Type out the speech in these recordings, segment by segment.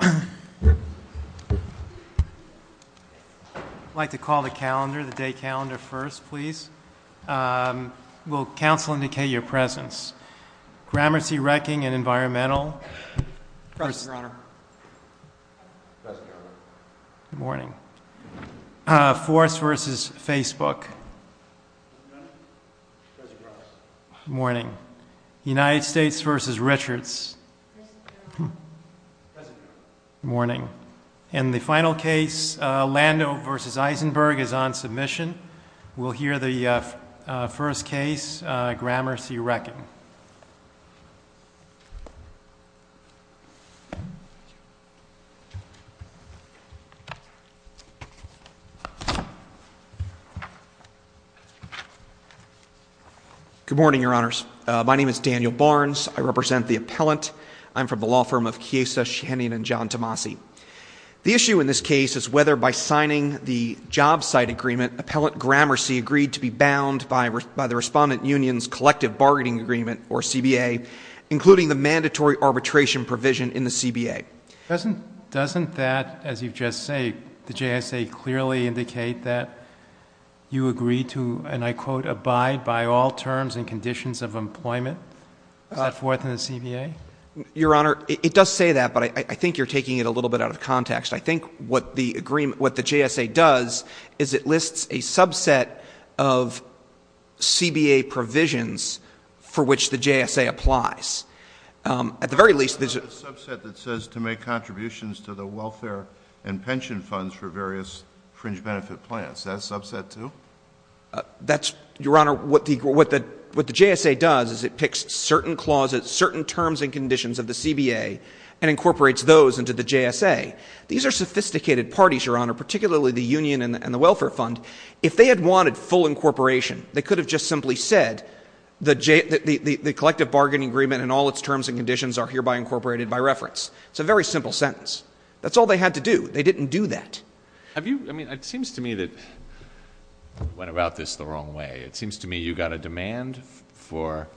I'd like to call the calendar, the day calendar, first, please. Will counsel indicate your presence? Gramercy, Wrecking, and Environmental. President Rohnert. President Rohnert. Good morning. Force v. Facebook. President Rohnert. Good morning. United States v. Richards. President Richards. Good morning. And the final case, Lando v. Eisenberg, is on submission. We'll hear the first case, Gramercy Wrecking. Good morning, Your Honors. My name is Daniel Barnes. I represent the appellant. I'm from the law firm of Chiesa, Shannon, and John Tomasi. The issue in this case is whether by signing the job site agreement, an appellant, Gramercy, agreed to be bound by the respondent union's collective bargaining agreement, or CBA, including the mandatory arbitration provision in the CBA. Doesn't that, as you've just said, the JSA clearly indicate that you agree to, and I quote, abide by all terms and conditions of employment for the CBA? Your Honor, it does say that, but I think you're taking it a little bit out of context. I think what the JSA does is it lists a subset of CBA provisions for which the JSA applies. At the very least, there's a subset that says to make contributions to the welfare and pension funds for various fringe benefit plans. Is that a subset, too? Your Honor, what the JSA does is it picks certain clauses, certain terms and conditions of the CBA, and incorporates those into the JSA. These are sophisticated parties, Your Honor, particularly the union and the welfare fund. If they had wanted full incorporation, they could have just simply said the collective bargaining agreement and all its terms and conditions are hereby incorporated by reference. It's a very simple sentence. That's all they had to do. They didn't do that. It seems to me that you went about this the wrong way. It seems to me you got a demand for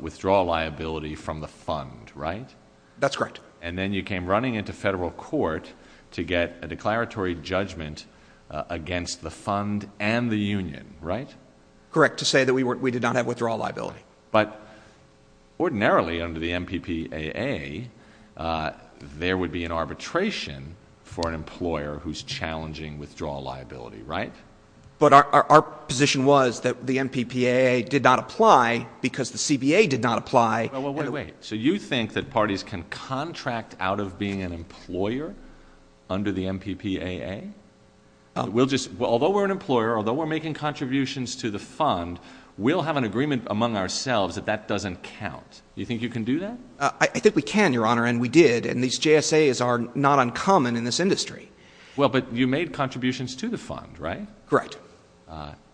withdrawal liability from the fund, right? That's correct. And then you came running into federal court to get a declaratory judgment against the fund and the union, right? Correct, to say that we did not have withdrawal liability. But ordinarily under the MPPAA, there would be an arbitration for an employer who's challenging withdrawal liability, right? But our position was that the MPPAA did not apply because the CBA did not apply. So you think that parties can contract out of being an employer under the MPPAA? Although we're an employer, although we're making contributions to the fund, we'll have an agreement among ourselves that that doesn't count. Do you think you can do that? I think we can, Your Honor, and we did, and these JSAs are not uncommon in this industry. Well, but you made contributions to the fund, right? Correct.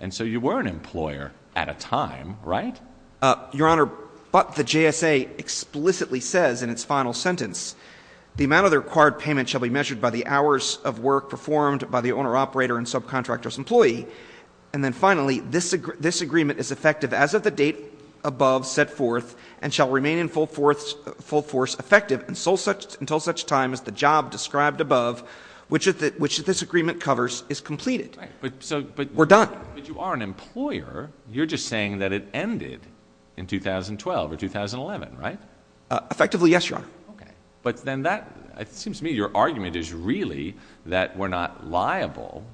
And so you were an employer at a time, right? Your Honor, but the JSA explicitly says in its final sentence, the amount of the required payment shall be measured by the hours of work performed by the owner, operator, and subcontractor's employee. And then finally, this agreement is effective as of the date above set forth and shall remain in full force effective until such time as the job described above, which this agreement covers, is completed. We're done. But you are an employer. You're just saying that it ended in 2012 or 2011, right? Effectively, yes, Your Honor. Okay. But then that seems to me your argument is really that we're not liable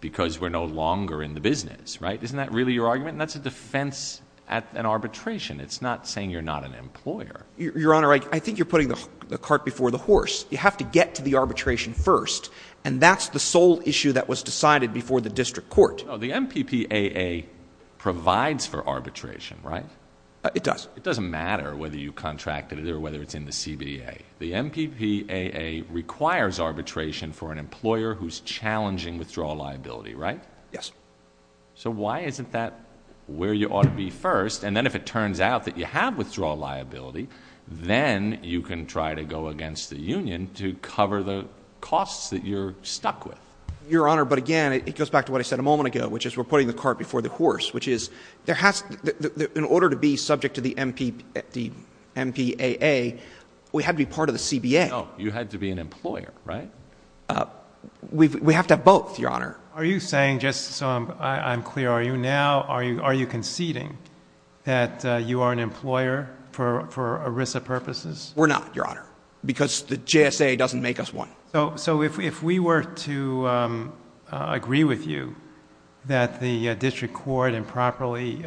because we're no longer in the business, right? Isn't that really your argument? That's a defense at an arbitration. It's not saying you're not an employer. Your Honor, I think you're putting the cart before the horse. You have to get to the arbitration first, and that's the sole issue that was decided before the district court. The MPPAA provides for arbitration, right? It does. It doesn't matter whether you contracted it or whether it's in the CBA. The MPPAA requires arbitration for an employer who's challenging withdrawal liability, right? Yes. So why isn't that where you ought to be first? And then if it turns out that you have withdrawal liability, then you can try to go against the union to cover the costs that you're stuck with. Your Honor, but again, it goes back to what I said a moment ago, which is we're putting the cart before the horse, which is in order to be subject to the MPPAA, we have to be part of the CBA. No, you have to be an employer, right? We have to have both, Your Honor. Are you saying, just so I'm clear, are you conceding? That you are an employer for ERISA purposes? We're not, Your Honor, because the JSA doesn't make us one. So if we were to agree with you that the district court improperly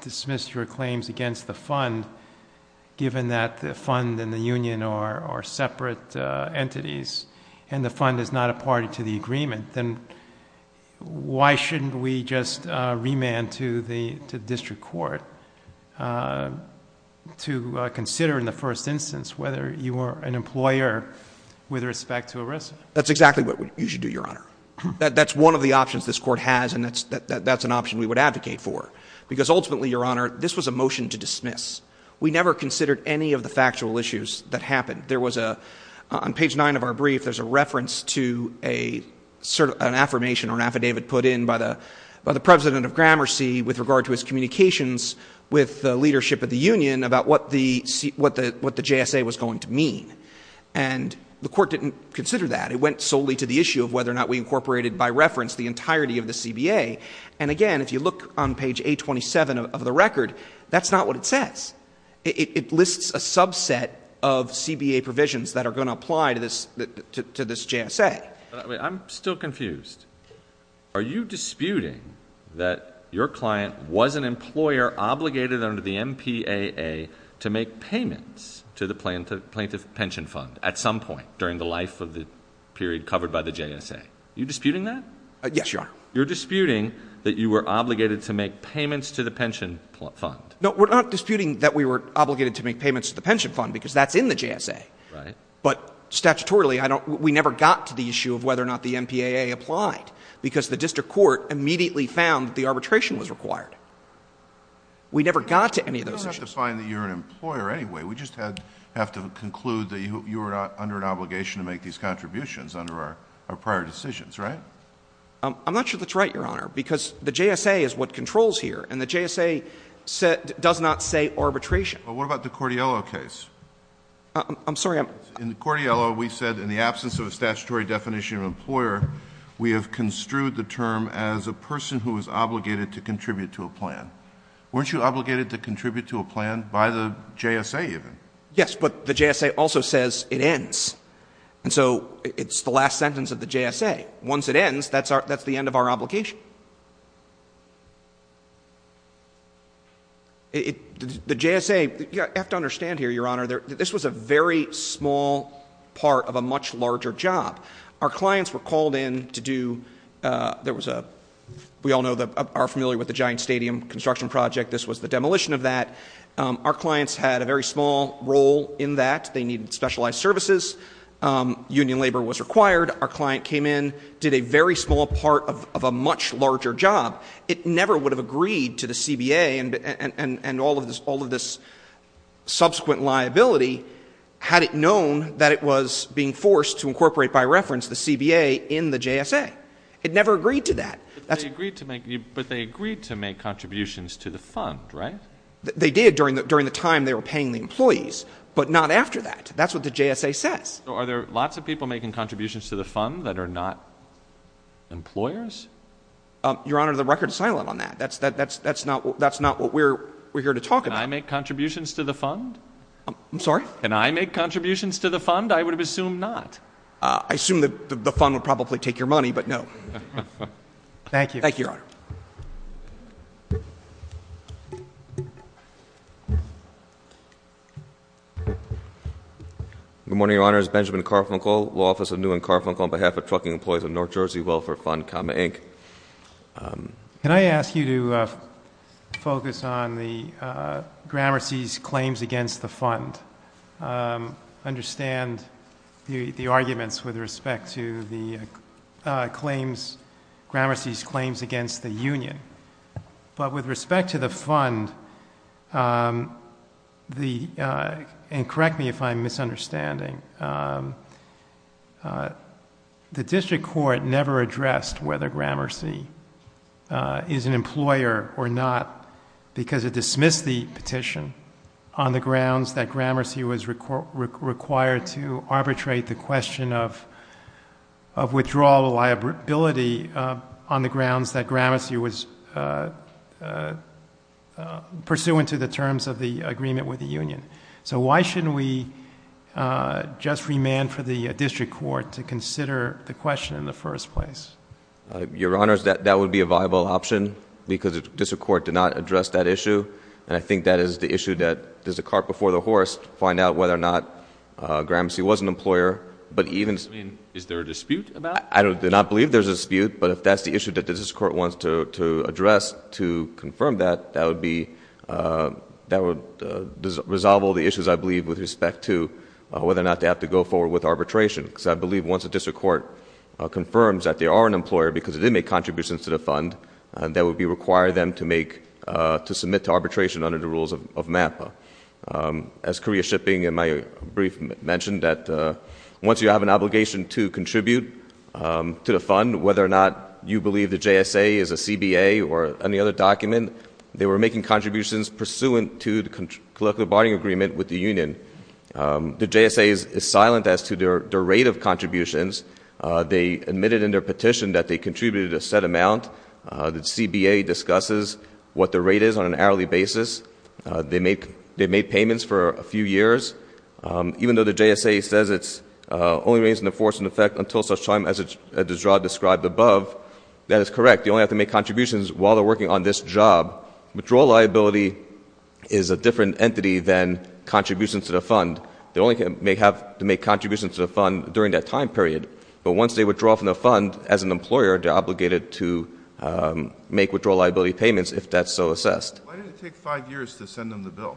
dismissed your claims against the fund, given that the fund and the union are separate entities and the fund is not a party to the agreement, then why shouldn't we just remand to the district court to consider in the first instance whether you are an employer with respect to ERISA? That's exactly what you should do, Your Honor. That's one of the options this court has, and that's an option we would advocate for. Because ultimately, Your Honor, this was a motion to dismiss. We never considered any of the factual issues that happened. On page 9 of our brief, there's a reference to an affirmation or an affidavit put in by the president of Gramercy with regard to his communications with the leadership of the union about what the JSA was going to mean. And the court didn't consider that. It went solely to the issue of whether or not we incorporated by reference the entirety of the CBA. And again, if you look on page 827 of the record, that's not what it says. It lists a subset of CBA provisions that are going to apply to this JSA. I'm still confused. Are you disputing that your client was an employer obligated under the MPAA to make payments to the plaintiff's pension fund at some point during the life of the period covered by the JSA? Are you disputing that? Yes, Your Honor. You're disputing that you were obligated to make payments to the pension fund. No, we're not disputing that we were obligated to make payments to the pension fund because that's in the JSA. But statutorily, we never got to the issue of whether or not the MPAA applied because the district court immediately found the arbitration was required. We never got to any of those issues. We don't have to find that you're an employer anyway. We just have to conclude that you were under an obligation to make these contributions under our prior decisions, right? I'm not sure that's right, Your Honor, because the JSA is what controls here, and the JSA does not say arbitration. Well, what about the Cordiello case? I'm sorry. In Cordiello, we said in the absence of a statutory definition of employer, we have construed the term as a person who is obligated to contribute to a plan. Weren't you obligated to contribute to a plan by the JSA, you think? Yes, but the JSA also says it ends. And so it's the last sentence of the JSA. Once it ends, that's the end of our obligation. The JSA, you have to understand here, Your Honor, this was a very small part of a much larger job. Our clients were called in to do, we all know, are familiar with the giant stadium construction project. This was the demolition of that. Our clients had a very small role in that. They needed specialized services. Union labor was required. Our client came in, did a very small part of a much larger job. It never would have agreed to the CBA and all of this subsequent liability had it known that it was being forced to incorporate by reference the CBA in the JSA. It never agreed to that. But they agreed to make contributions to the fund, right? They did during the time they were paying the employees, but not after that. That's what the JSA says. So are there lots of people making contributions to the fund that are not employers? Your Honor, the record is silent on that. That's not what we're here to talk about. Can I make contributions to the fund? I'm sorry? Can I make contributions to the fund? I would have assumed not. I assume that the fund would probably take your money, but no. Thank you. Thank you, Your Honor. Good morning, Your Honors. Benjamin Carfunkle, Law Office of Newman Carfunkle, on behalf of Trucking Employees of North Jersey Welfare Fund, comma, Inc. Can I ask you to focus on Gramercy's claims against the fund? Understand the arguments with respect to Gramercy's claims against the union. But with respect to the fund, and correct me if I'm misunderstanding, the district court never addressed whether Gramercy is an employer or not because it dismissed the petition on the grounds that Gramercy was required to pursuant to the terms of the agreement with the union. So why shouldn't we just remand for the district court to consider the question in the first place? Your Honors, that would be a viable option because the district court did not address that issue. And I think that is the issue that there's a cart before the horse, find out whether or not Gramercy was an employer. Is there a dispute about it? I do not believe there's a dispute, but if that's the issue that the district court wants to address to confirm that, that would resolve all the issues, I believe, with respect to whether or not they have to go forward with arbitration. Because I believe once the district court confirms that they are an employer because they did make contributions to the fund, that would require them to submit to arbitration under the rules of MAPA. As Korea Shipping in my brief mentioned, that once you have an obligation to contribute to the fund, whether or not you believe the JSA is a CBA or any other document, they were making contributions pursuant to the collective bargaining agreement with the union. The JSA is silent as to their rate of contributions. They admitted in their petition that they contributed a set amount. The CBA discusses what the rate is on an hourly basis. They made payments for a few years. Even though the JSA says it's only raised in the force and effect until such time as the job described above, that is correct. They only have to make contributions while they're working on this job. Withdrawal liability is a different entity than contributions to the fund. They only may have to make contributions to the fund during that time period. But once they withdraw from the fund as an employer, they're obligated to make withdrawal liability payments if that's so assessed. Why did it take five years to send them the bill?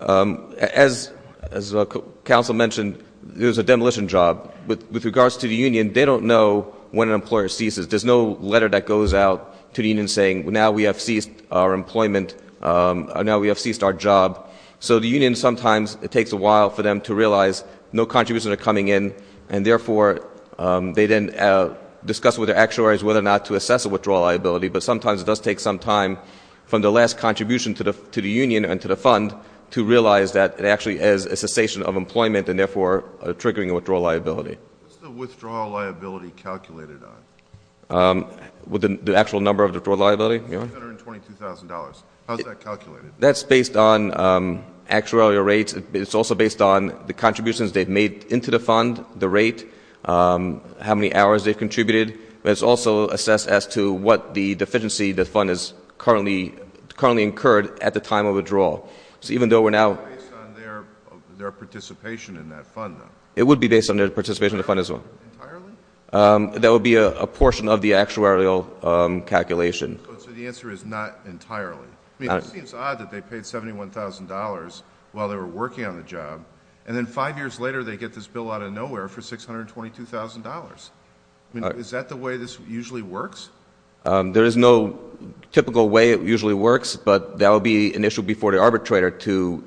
As the counsel mentioned, it was a demolition job. With regards to the union, they don't know when an employer ceases. There's no letter that goes out to the union saying, now we have ceased our employment, now we have ceased our job. So the union sometimes, it takes a while for them to realize no contributions are coming in, and therefore they then discuss with their actuaries whether or not to assess a withdrawal liability. But sometimes it does take some time from the last contribution to the union and to the fund to realize that it actually is a cessation of employment and therefore triggering a withdrawal liability. What's the withdrawal liability calculated on? The actual number of the withdrawal liability? $122,000. How is that calculated? That's based on actual rates. It's also based on the contributions they've made into the fund, the rate, how many hours they've contributed. But it's also assessed as to what the deficiency the fund has currently incurred at the time of withdrawal. So even though we're now... It's based on their participation in that fund, though. It would be based on their participation in the fund as well. Entirely? That would be a portion of the actuarial calculation. So the answer is not entirely. It seems odd that they paid $71,000 while they were working on the job, and then five years later they get this bill out of nowhere for $622,000. Is that the way this usually works? There is no typical way it usually works, but that would be an issue before the arbitrator to...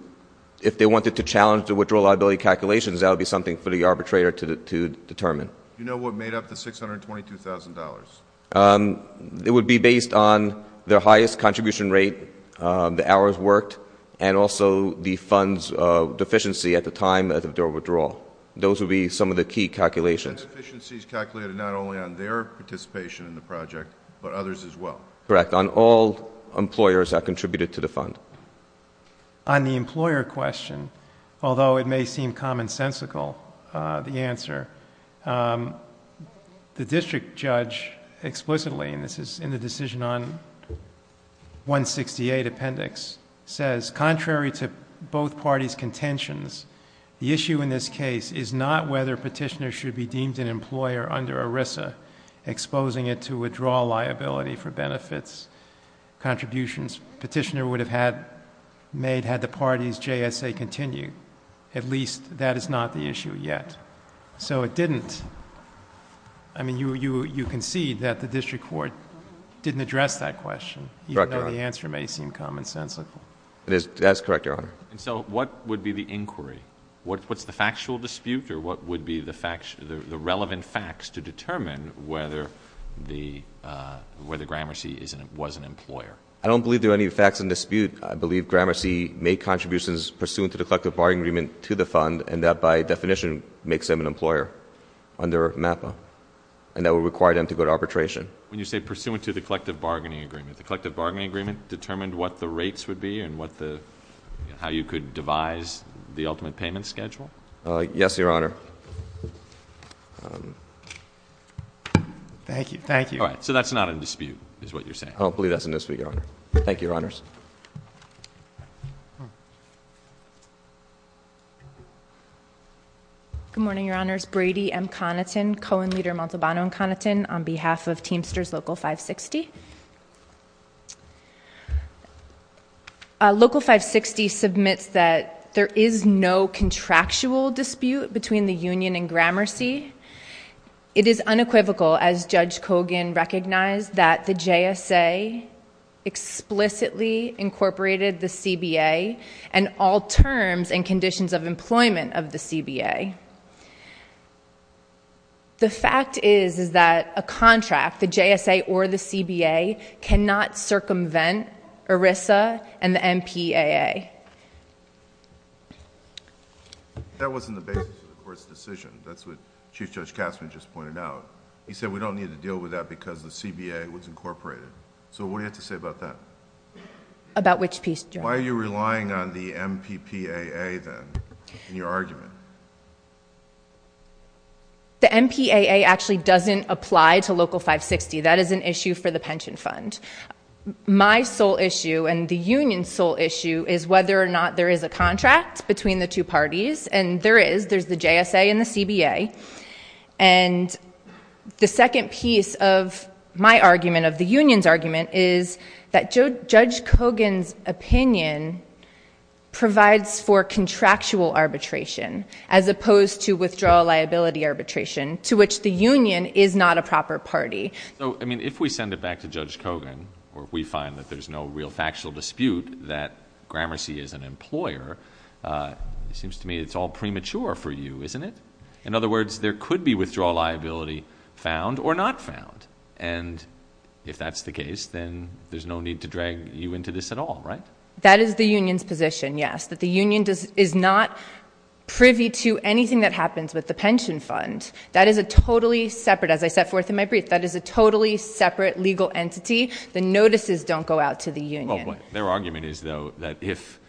If they wanted to challenge the withdrawal liability calculations, that would be something for the arbitrator to determine. Do you know what made up the $622,000? It would be based on their highest contribution rate, the hours worked, and also the fund's deficiency at the time of their withdrawal. Those would be some of the key calculations. The deficiencies calculated not only on their participation in the project, but others as well. Correct. On all employers that contributed to the fund. On the employer question, although it may seem commonsensical, the answer, the district judge explicitly, and this is in the decision on 168 appendix, says contrary to both parties' contentions, the issue in this case is not whether petitioners should be deemed an employer under ERISA, exposing it to withdrawal liability for benefits, contributions. Petitioner would have made had the parties' JSA continued. At least that is not the issue yet. So it didn't, I mean, you can see that the district court didn't address that question. Correct, Your Honor. Even though the answer may seem commonsensical. That's correct, Your Honor. So what would be the inquiry? What's the factual dispute or what would be the relevant facts to determine whether Gramercy was an employer? I don't believe there are any facts in dispute. I believe Gramercy made contributions pursuant to the collective bargaining agreement to the fund and that by definition makes them an employer under MAPA and that would require them to go to arbitration. When you say pursuant to the collective bargaining agreement, the collective bargaining agreement determined what the rates would be and how you could devise the ultimate payment schedule? Yes, Your Honor. Thank you. So that's not in dispute is what you're saying? I don't believe that's in dispute, Your Honor. Good morning, Your Honors. My name is Brady M. Conaton, co-leader Montalbano M. Conaton, on behalf of Teamsters Local 560. Local 560 submits that there is no contractual dispute between the union and Gramercy. It is unequivocal, as Judge Kogan recognized, that the JSA explicitly incorporated the CBA and all terms and conditions of employment of the CBA. The fact is that a contract, the JSA or the CBA, cannot circumvent ERISA and the MPAA. That wasn't the basis of the first decision. That's what Chief Judge Castner just pointed out. He said we don't need to deal with that because the CBA was incorporated. So what do you have to say about that? About which piece, Judge? Why are you relying on the MPPAA, then, in your argument? The MPAA actually doesn't apply to Local 560. That is an issue for the pension fund. My sole issue and the union's sole issue is whether or not there is a contract between the two parties, and there is. There's the JSA and the CBA. And the second piece of my argument, of the union's argument, is that Judge Kogan's opinion provides for contractual arbitration as opposed to withdrawal liability arbitration, to which the union is not a proper party. So, I mean, if we send it back to Judge Kogan, where we find that there's no real factual dispute that Gramercy is an employer, it seems to me it's all premature for you, isn't it? In other words, there could be withdrawal liability found or not found. And if that's the case, then there's no need to drag you into this at all, right? That is the union's position, yes, that the union is not privy to anything that happens with the pension fund. That is a totally separate, as I set forth in my brief, that is a totally separate legal entity. The notices don't go out to the union. Their argument is, though, that if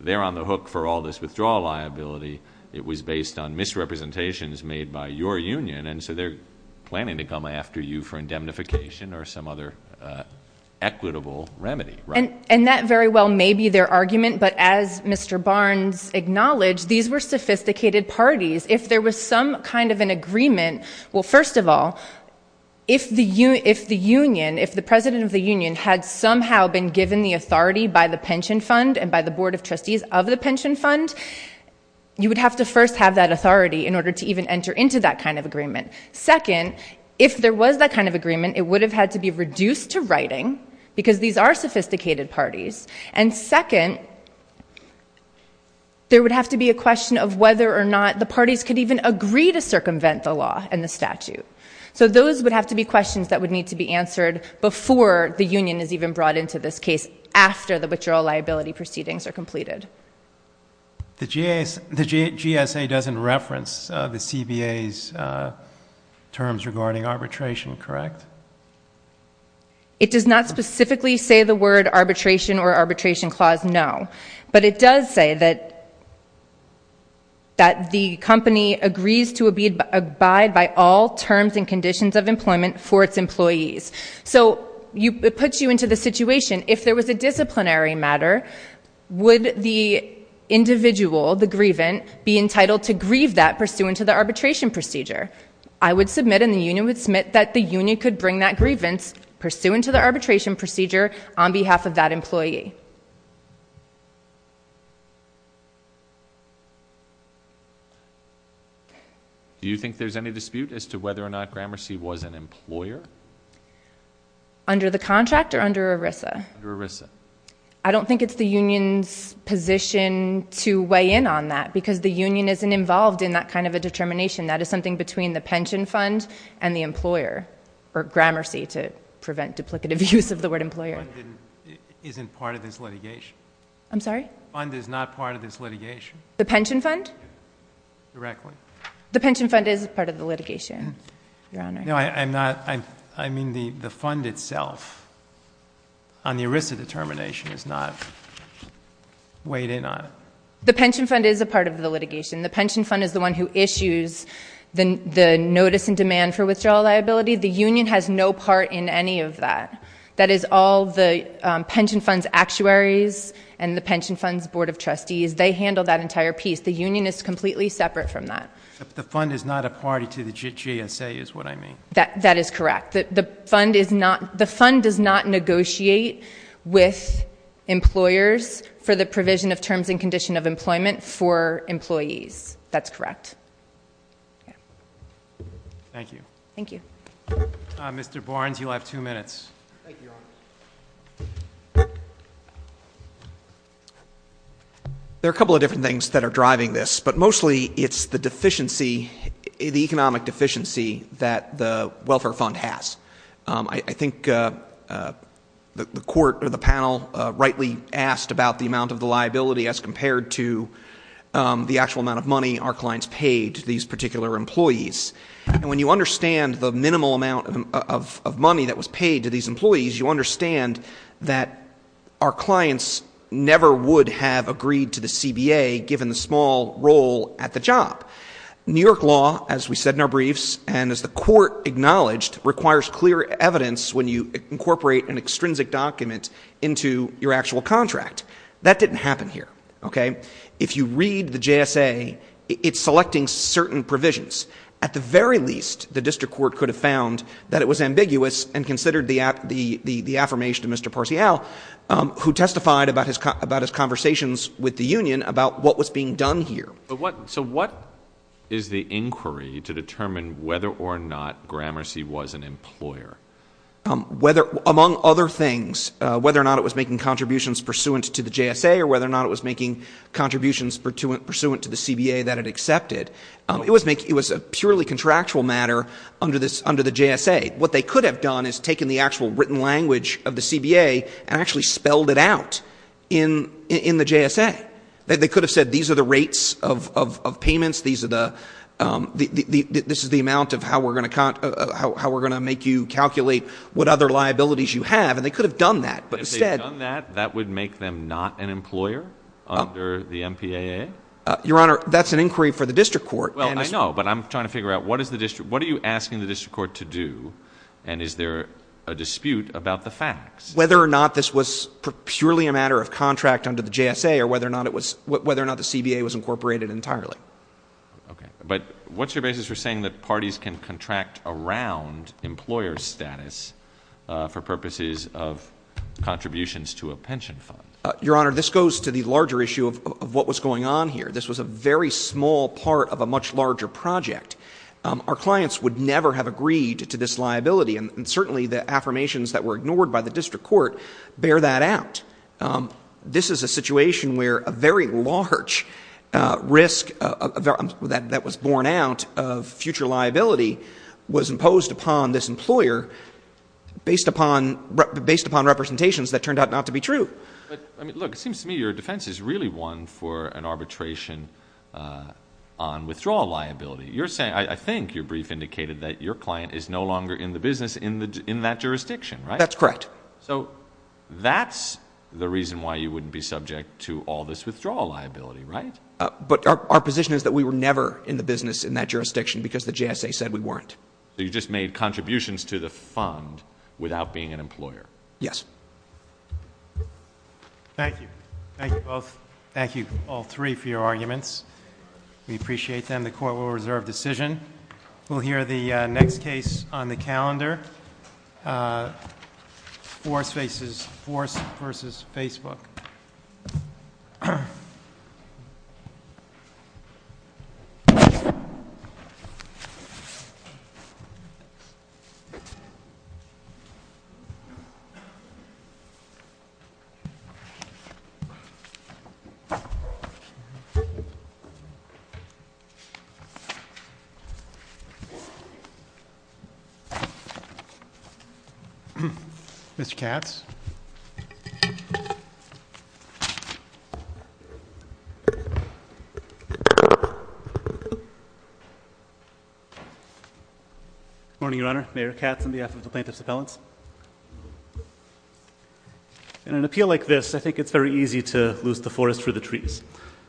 they're on the hook for all this withdrawal liability, it was based on misrepresentations made by your union, and so they're planning to come after you for indemnification or some other equitable remedy, right? And that very well may be their argument, but as Mr. Barnes acknowledged, these were sophisticated parties. If there was some kind of an agreement, well, first of all, if the union, if the president of the union had somehow been given the authority by the pension fund and by the board of trustees of the pension fund, you would have to first have that authority in order to even enter into that kind of agreement. Second, if there was that kind of agreement, it would have had to be reduced to writing, because these are sophisticated parties. And second, there would have to be a question of whether or not the parties could even agree to circumvent the law and the statute. So those would have to be questions that would need to be answered before the union is even brought into this case, after the butcher liability proceedings are completed. The GSA doesn't reference the CBA's terms regarding arbitration, correct? It does not specifically say the word arbitration or arbitration clause, no. But it does say that the company agrees to abide by all terms and conditions of employment for its employees. So it puts you into the situation. If there was a disciplinary matter, would the individual, the grievance, be entitled to grieve that pursuant to the arbitration procedure? I would submit and the union would submit that the union could bring that grievance pursuant to the arbitration procedure on behalf of that employee. Do you think there's any dispute as to whether or not Gramercy was an employer? Under the contract or under ERISA? Under ERISA. I don't think it's the union's position to weigh in on that, because the union isn't involved in that kind of a determination. That is something between the pension fund and the employer, or Gramercy, to prevent duplicative use of the word employer. Isn't part of the agreement that the union is an employer? I'm sorry? The fund is not part of this litigation. The pension fund? Directly. The pension fund is part of the litigation, Your Honor. No, I'm not. I mean the fund itself on the ERISA determination is not weighed in on it. The pension fund is a part of the litigation. The pension fund is the one who issues the notice and demand for withdrawal liability. The union has no part in any of that. That is all the pension fund's actuaries and the pension fund's board of trustees. They handle that entire piece. The union is completely separate from that. The fund is not a party to the GSA is what I mean. That is correct. The fund does not negotiate with employers for the provision of terms and condition of employment for employees. That's correct. Thank you. Thank you. Mr. Barnes, you have two minutes. Thank you, Your Honor. There are a couple of different things that are driving this, but mostly it's the economic deficiency that the welfare fund has. I think the panel rightly asked about the amount of the liability as compared to the actual amount of money our clients pay to these particular employees. When you understand the minimal amount of money that was paid to these employees, you understand that our clients never would have agreed to the CBA given the small role at the job. New York law, as we said in our briefs, and as the court acknowledged, requires clear evidence when you incorporate an extrinsic document into your actual contract. That didn't happen here. If you read the GSA, it's selecting certain provisions. At the very least, the district court could have found that it was ambiguous and considered the affirmation of Mr. Parcial, who testified about his conversations with the union about what was being done here. So what is the inquiry to determine whether or not Gramercy was an employer? Among other things, whether or not it was making contributions pursuant to the GSA or whether or not it was making contributions pursuant to the CBA that it accepted, it was a purely contractual matter under the GSA. What they could have done is taken the actual written language of the CBA and actually spelled it out in the GSA. They could have said these are the rates of payments, this is the amount of how we're going to make you calculate what other liabilities you have, and they could have done that. If they had done that, that would make them not an employer under the MPAA? Your Honor, that's an inquiry for the district court. Well, I know, but I'm trying to figure out what are you asking the district court to do, and is there a dispute about the facts? Whether or not this was purely a matter of contract under the GSA or whether or not the CBA was incorporated entirely. Okay. But what's your basis for saying that parties can contract around employer status for purposes of contributions to a pension fund? Your Honor, this goes to the larger issue of what was going on here. This was a very small part of a much larger project. Our clients would never have agreed to this liability, and certainly the affirmations that were ignored by the district court bear that out. This is a situation where a very large risk that was borne out of future liability was imposed upon this employer based upon representations that turned out not to be true. Look, it seems to me your defense is really one for an arbitration on withdrawal liability. I think your brief indicated that your client is no longer in the business in that jurisdiction, right? That's correct. So that's the reason why you wouldn't be subject to all this withdrawal liability, right? But our position is that we were never in the business in that jurisdiction because the JSA said we weren't. So you just made contributions to the fund without being an employer. Yes. Thank you. Thank you, both. Thank you, all three, for your arguments. We appreciate them. We'll hear the next case on the calendar. Wars versus Facebook. Mitch Capps. Good morning, Your Honor. Mayor Capp from the Office of Plaintiffs' Appealants. In an appeal like this, I think it's very easy to lose the forest to the trees.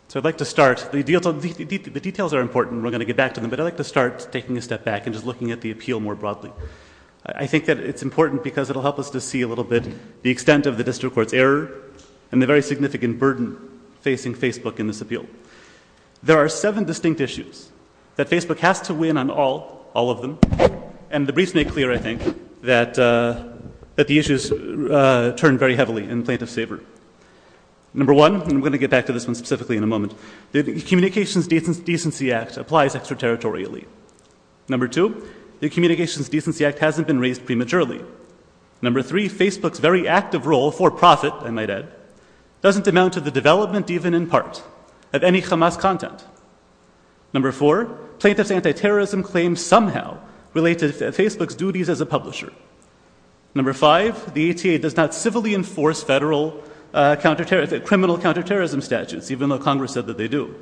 So I'd like to start. The details are important. We're going to get back to them, but I'd like to start taking a step back and just looking at the appeal more broadly. I think that it's important because it will help us to see a little bit the extent of the district court's error and the very significant burden facing Facebook in this appeal. There are seven distinct issues that Facebook has to win on all of them, and the briefs make clear, I think, that the issues turn very heavily in plaintiffs' favor. Number one, and we're going to get back to this one specifically in a moment, the Communications Decency Act applies extraterritorially. Number two, the Communications Decency Act hasn't been raised prematurely. Number three, Facebook's very active role for profit, I might add, doesn't amount to the development even in part of any Hamas content. Number four, plaintiffs' anti-terrorism claims somehow relate to Facebook's duties as a publisher. Number five, the ETA does not civilly enforce federal criminal counterterrorism statutes, even though Congress said that they do.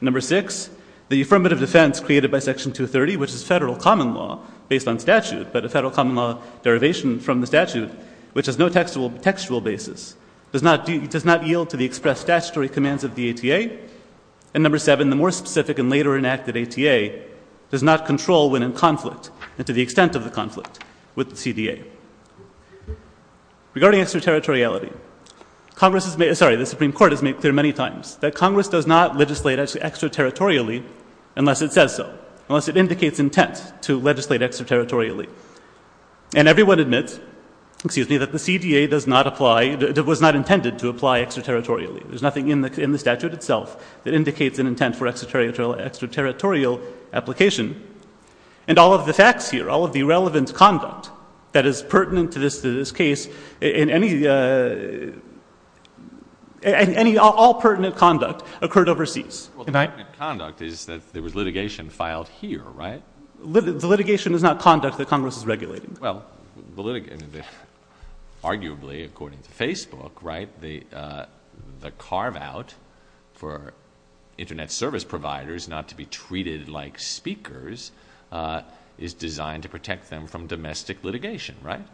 Number six, the affirmative defense created by Section 230, which is federal common law based on statute, but a federal common law derivation from the statute, which has no textual basis, does not yield to the express statutory commands of the ETA. And number seven, the more specific and later enacted ETA does not control when in conflict and to the extent of the conflict with the CDA. Regarding extraterritoriality, Congress has made – sorry, the Supreme Court has made clear many times that Congress does not legislate extraterritorially unless it says so, unless it indicates intent to legislate extraterritorially. And everyone admits that the CDA does not apply – that it was not intended to apply extraterritorially. There's nothing in the statute itself that indicates an intent for extraterritorial application. And all of the facts here, all of the relevant conduct that is pertinent to this case, and any – all pertinent conduct occurred overseas. Well, the pertinent conduct is that there was litigation filed here, right? The litigation is not conduct that Congress is regulating. Well, the – arguably, according to Facebook, right, the carve-out for Internet service providers not to be treated like speakers is designed to protect them from domestic litigation, right?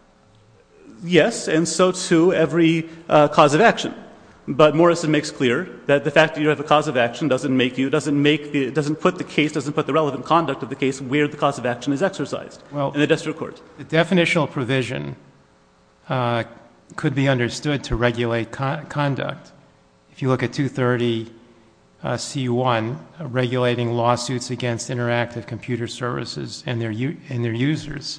Yes, and so, too, every cause of action. But Morrison makes clear that the fact that you have a cause of action doesn't make you – doesn't make the – doesn't put the case – doesn't put the relevant conduct of the case where the cause of action is exercised in a district court. Well, the definitional provision could be understood to regulate conduct. If you look at 230C1, regulating lawsuits against interactive computer services and their users.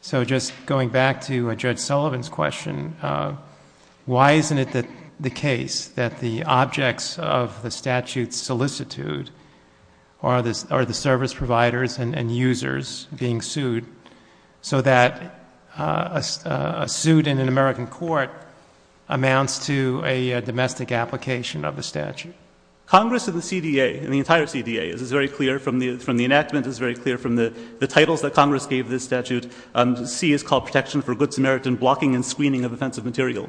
So just going back to Judge Sullivan's question, why isn't it the case that the objects of the statute solicitude are the service providers and users being sued, so that a suit in an American court amounts to a domestic application of a statute? Congress of the CDA, the entire CDA, is very clear from the enactment, is very clear from the titles that Congress gave this statute. C is called Protection for Goods Merit in Blocking and Screening of Offensive Material.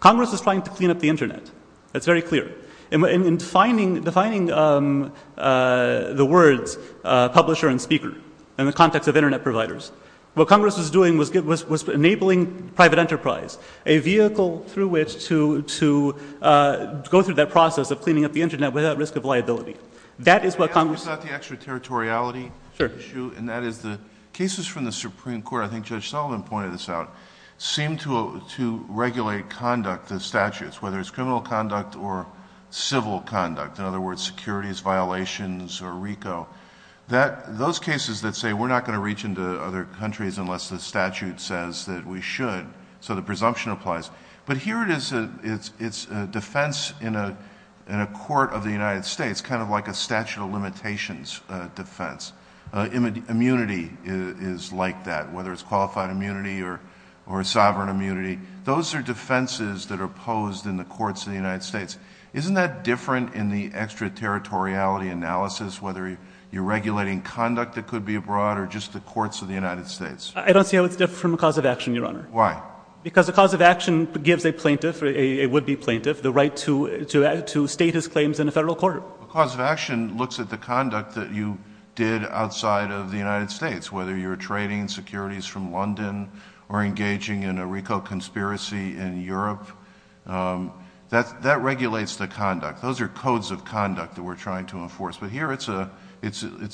Congress is trying to clean up the Internet. That's very clear. And defining the words publisher and speaker in the context of Internet providers, what Congress is doing was enabling private enterprise, a vehicle through which to go through that process of cleaning up the Internet without risk of liability. Can I ask about the extraterritoriality issue? Sure. And that is the cases from the Supreme Court, I think Judge Sullivan pointed this out, seem to regulate conduct of statutes, whether it's criminal conduct or civil conduct, in other words, securities violations or RICO. Those cases that say we're not going to reach into other countries unless the statute says that we should, so the presumption applies. But here it's a defense in a court of the United States, kind of like a statute of limitations defense. Immunity is like that, whether it's qualified immunity or sovereign immunity. Those are defenses that are posed in the courts of the United States. Isn't that different in the extraterritoriality analysis, whether you're regulating conduct that could be abroad or just the courts of the United States? I don't think it's different from the cause of action, Your Honor. Why? Because the cause of action gives a plaintiff, a would-be plaintiff, the right to state his claims in a federal court. The cause of action looks at the conduct that you did outside of the United States, whether you're trading securities from London or engaging in a RICO conspiracy in Europe. That regulates the conduct. Those are codes of conduct that we're trying to enforce. But here it's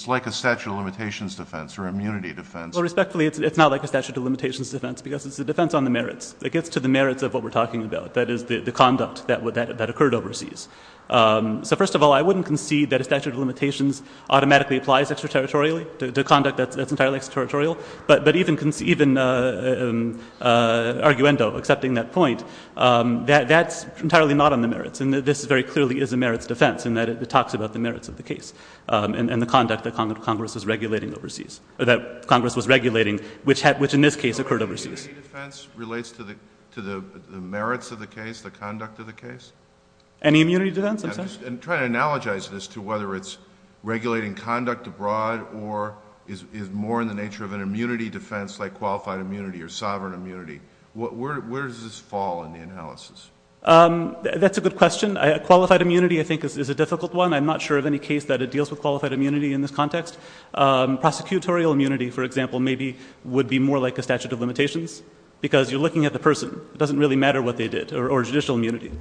like a statute of limitations defense or immunity defense. Well, respectfully, it's not like a statute of limitations defense because it's a defense on the merits. It gets to the merits of what we're talking about, that is, the conduct that occurred overseas. So, first of all, I wouldn't concede that a statute of limitations automatically applies extraterritorially, the conduct that's entirely extraterritorial. But even arguendo, accepting that point, that's entirely not on the merits, and this very clearly is a merits defense in that it talks about the merits of the case and the conduct that Congress was regulating, which in this case occurred overseas. So immunity defense relates to the merits of the case, the conduct of the case? Any immunity defense? I'm trying to analogize this to whether it's regulating conduct abroad or is more in the nature of an immunity defense like qualified immunity or sovereign immunity. Where does this fall in the analysis? That's a good question. Qualified immunity, I think, is a difficult one. I'm not sure of any case that it deals with qualified immunity in this context. Prosecutorial immunity, for example, maybe would be more like a statute of limitations because you're looking at the person. It doesn't really matter what they did, or judicial immunity,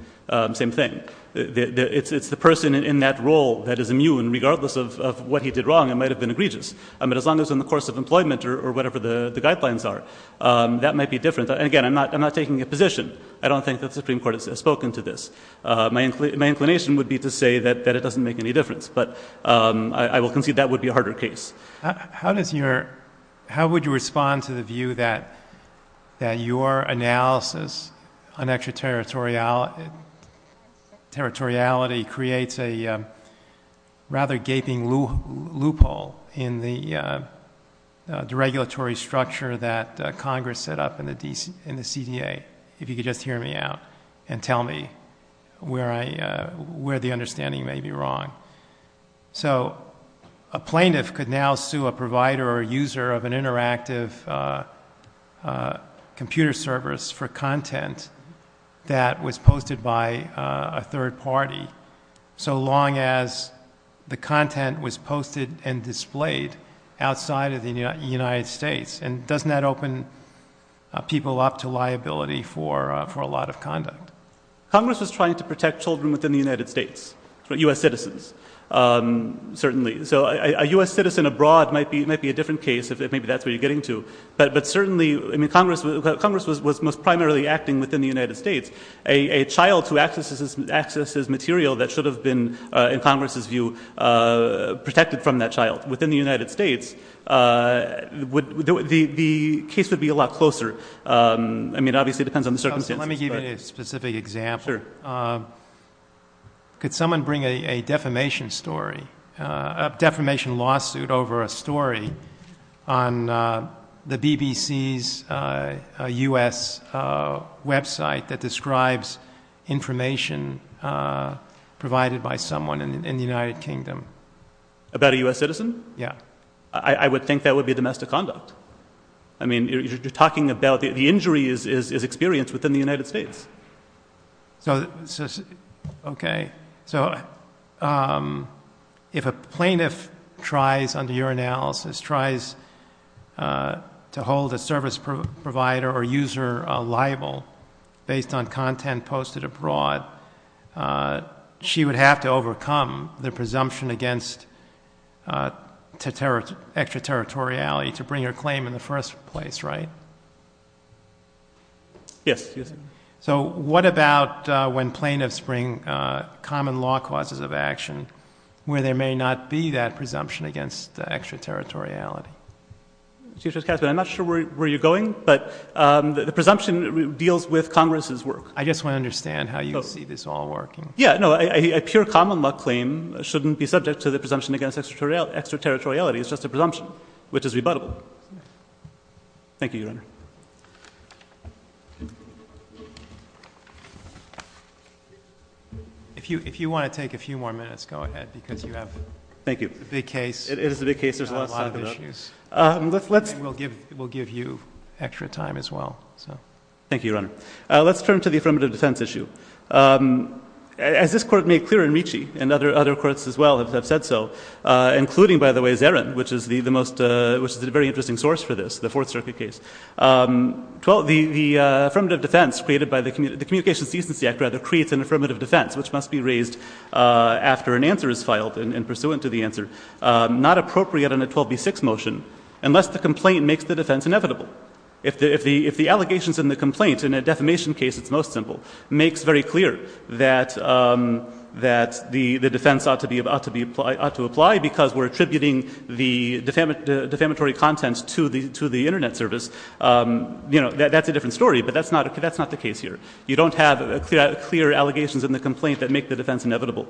same thing. It's the person in that role that is immune. Regardless of what he did wrong, it might have been egregious. But as long as it's in the course of employment or whatever the guidelines are, that might be different. Again, I'm not taking a position. I don't think the Supreme Court has spoken to this. My inclination would be to say that it doesn't make any difference. But I will concede that would be a harder case. How would you respond to the view that your analysis on extraterritoriality creates a rather gaping loophole in the regulatory structure that Congress set up in the CDA, if you could just hear me out and tell me where the understanding may be wrong? So a plaintiff could now sue a provider or a user of an interactive computer service for content that was posted by a third party so long as the content was posted and displayed outside of the United States. And doesn't that open people up to liability for a lot of conduct? Congress is trying to protect children within the United States, U.S. citizens, certainly. So a U.S. citizen abroad might be a different case, if maybe that's what you're getting to. But certainly Congress was most primarily acting within the United States. A child who accesses material that should have been, in Congress's view, protected from that child within the United States the case would be a lot closer. I mean, obviously it depends on the circumstances. Let me give you a specific example. Could someone bring a defamation lawsuit over a story on the BBC's U.S. website that describes information provided by someone in the United Kingdom? About a U.S. citizen? Yeah. I would think that would be domestic conduct. I mean, you're talking about the injury is experienced within the United States. Okay. So if a plaintiff tries, under your analysis, tries to hold a service provider or user liable based on content posted abroad, she would have to overcome the presumption against extraterritoriality to bring her claim in the first place, right? Yes. So what about when plaintiffs bring common law causes of action where there may not be that presumption against extraterritoriality? I'm not sure where you're going, but the presumption deals with Congress's work. I just want to understand how you see this all working. Yeah. No, a pure common law claim shouldn't be subject to the presumption against extraterritoriality. It's just a presumption, which is rebuttable. Thank you, Your Honor. If you want to take a few more minutes, go ahead, because you have a big case. It is a big case. We'll give you extra time as well. Thank you, Your Honor. Let's turn to the affirmative defense issue. As this Court made clear in Ricci, and other courts as well have said so, including, by the way, Zarin, which is a very interesting source for this, the Fourth Circuit case, the affirmative defense created by the Communications Decency Act rather creates an affirmative defense, which must be raised after an answer is filed and pursuant to the answer. It is not appropriate in a 12B6 motion unless the complaint makes the defense inevitable. If the allegations in the complaint, in a defamation case it's most simple, makes very clear that the defense ought to apply because we're attributing the defamatory contents to the Internet service, that's a different story, but that's not the case here. You don't have clear allegations in the complaint that make the defense inevitable.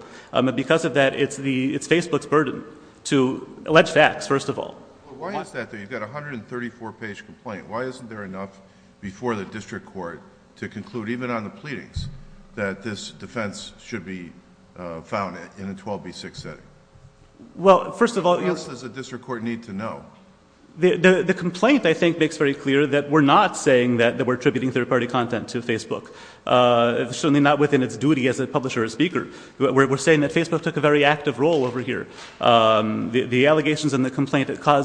Because of that, it's Facebook's burden to allege that, first of all. Why is that though? You've got a 134-page complaint. Why isn't there enough before the district court to conclude, even on the pleadings, that this defense should be found in a 12B6 setting? Well, first of all, yes. What else does the district court need to know? The complaint, I think, makes very clear that we're not saying that we're attributing third-party content to Facebook, certainly not within its duty as a publisher or speaker. We're saying that Facebook took a very active role over here. The allegations in the complaint call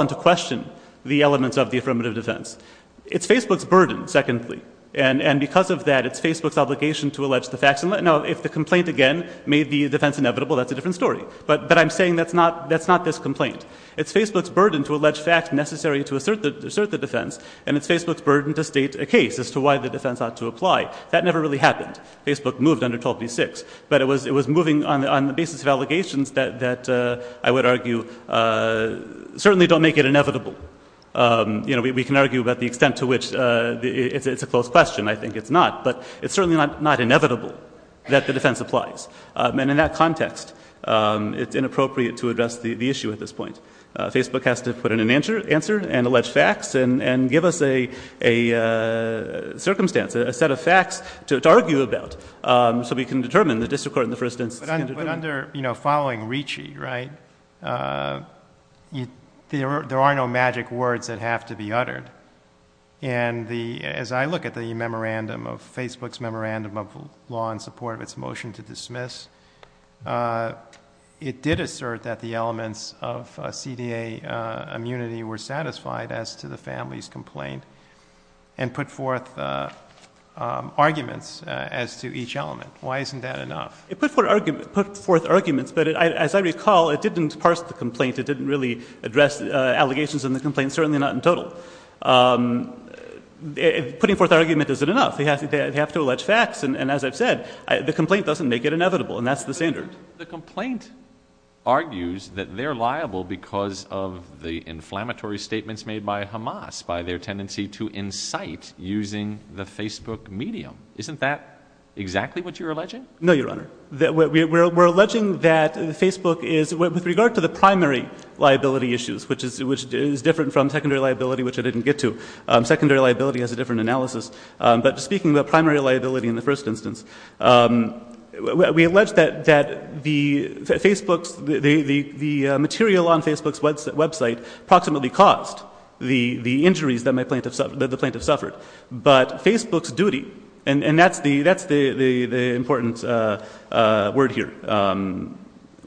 into question the elements of the affirmative defense. It's Facebook's burden, secondly. And because of that, it's Facebook's obligation to allege the facts. Now, if the complaint, again, made the defense inevitable, that's a different story. But I'm saying that's not this complaint. It's Facebook's burden to allege facts necessary to assert the defense, and it's Facebook's burden to state a case as to why the defense ought to apply. That never really happened. Facebook moved under 12B6. But it was moving on the basis of allegations that I would argue certainly don't make it inevitable. You know, we can argue about the extent to which it's a closed question. I think it's not. But it's certainly not inevitable that the defense applies. And in that context, it's inappropriate to address the issue at this point. Facebook has to put in an answer and allege facts and give us a circumstance, a set of facts to argue about so we can determine the district court in the first instance. But under, you know, following Ricci, right, there are no magic words that have to be uttered. And as I look at the memorandum of Facebook's memorandum of law in support of its motion to dismiss, it did assert that the elements of CDA immunity were satisfied as to the family's complaint and put forth arguments as to each element. Why isn't that enough? It put forth arguments, but as I recall, it didn't parse the complaint. It didn't really address allegations in the complaint, certainly not in total. Putting forth argument isn't enough. They have to allege facts. And as I said, the complaint doesn't make it inevitable, and that's the standard. The complaint argues that they're liable because of the inflammatory statements made by Hamas, by their tendency to incite using the Facebook medium. Isn't that exactly what you're alleging? No, Your Honor. We're alleging that Facebook is, with regard to the primary liability issues, which is different from secondary liability, which I didn't get to. Secondary liability has a different analysis. But speaking of primary liability in the first instance, we allege that the material on Facebook's website approximately caused the injuries that the plaintiff suffered. But Facebook's duty, and that's the important word here.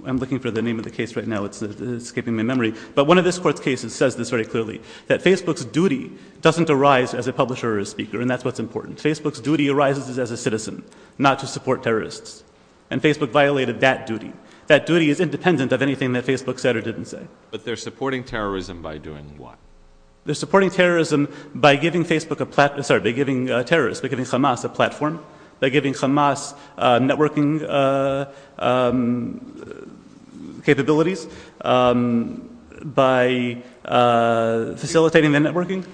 I'm looking for the name of the case right now. It's escaping my memory. But one of this court's cases says this very clearly, that Facebook's duty doesn't arise as a publisher or a speaker, and that's what's important. Facebook's duty arises as a citizen, not to support terrorists. And Facebook violated that duty. That duty is independent of anything that Facebook said or didn't say. But they're supporting terrorism by doing what? They're supporting terrorism by giving Facebook a platform, sorry, by giving terrorists, by giving Hamas a platform, by giving Hamas networking capabilities, by facilitating their networking.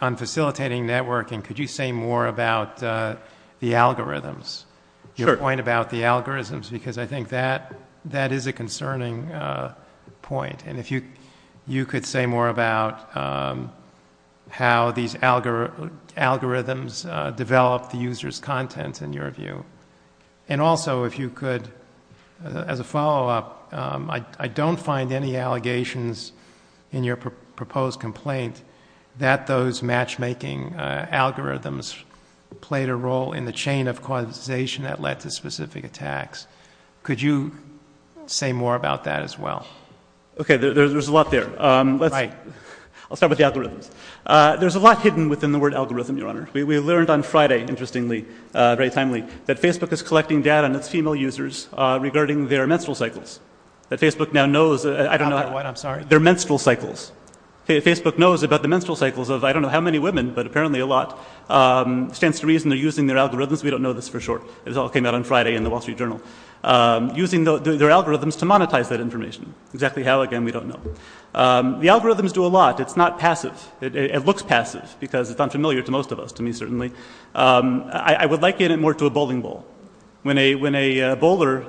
On facilitating networking, could you say more about the algorithms? Your point about the algorithms, because I think that is a concerning point. And if you could say more about how these algorithms develop the user's content, in your view. And also, if you could, as a follow-up, I don't find any allegations in your proposed complaint that those matchmaking algorithms played a role in the chain of causation that led to specific attacks. Could you say more about that as well? Okay, there's a lot there. I'll start with the algorithms. There's a lot hidden within the word algorithm, Your Honor. We learned on Friday, interestingly, very timely, that Facebook is collecting data on its female users regarding their menstrual cycles. That Facebook now knows, I don't know, their menstrual cycles. Facebook knows about the menstrual cycles of I don't know how many women, but apparently a lot. Stands to reason they're using their algorithms. We don't know this for sure. It all came out on Friday in the Wall Street Journal. Using their algorithms to monetize that information. Exactly how, again, we don't know. The algorithms do a lot. It's not passive. It looks passive because it's unfamiliar to most of us, to me certainly. I would like it more to a bowling ball. When a bowler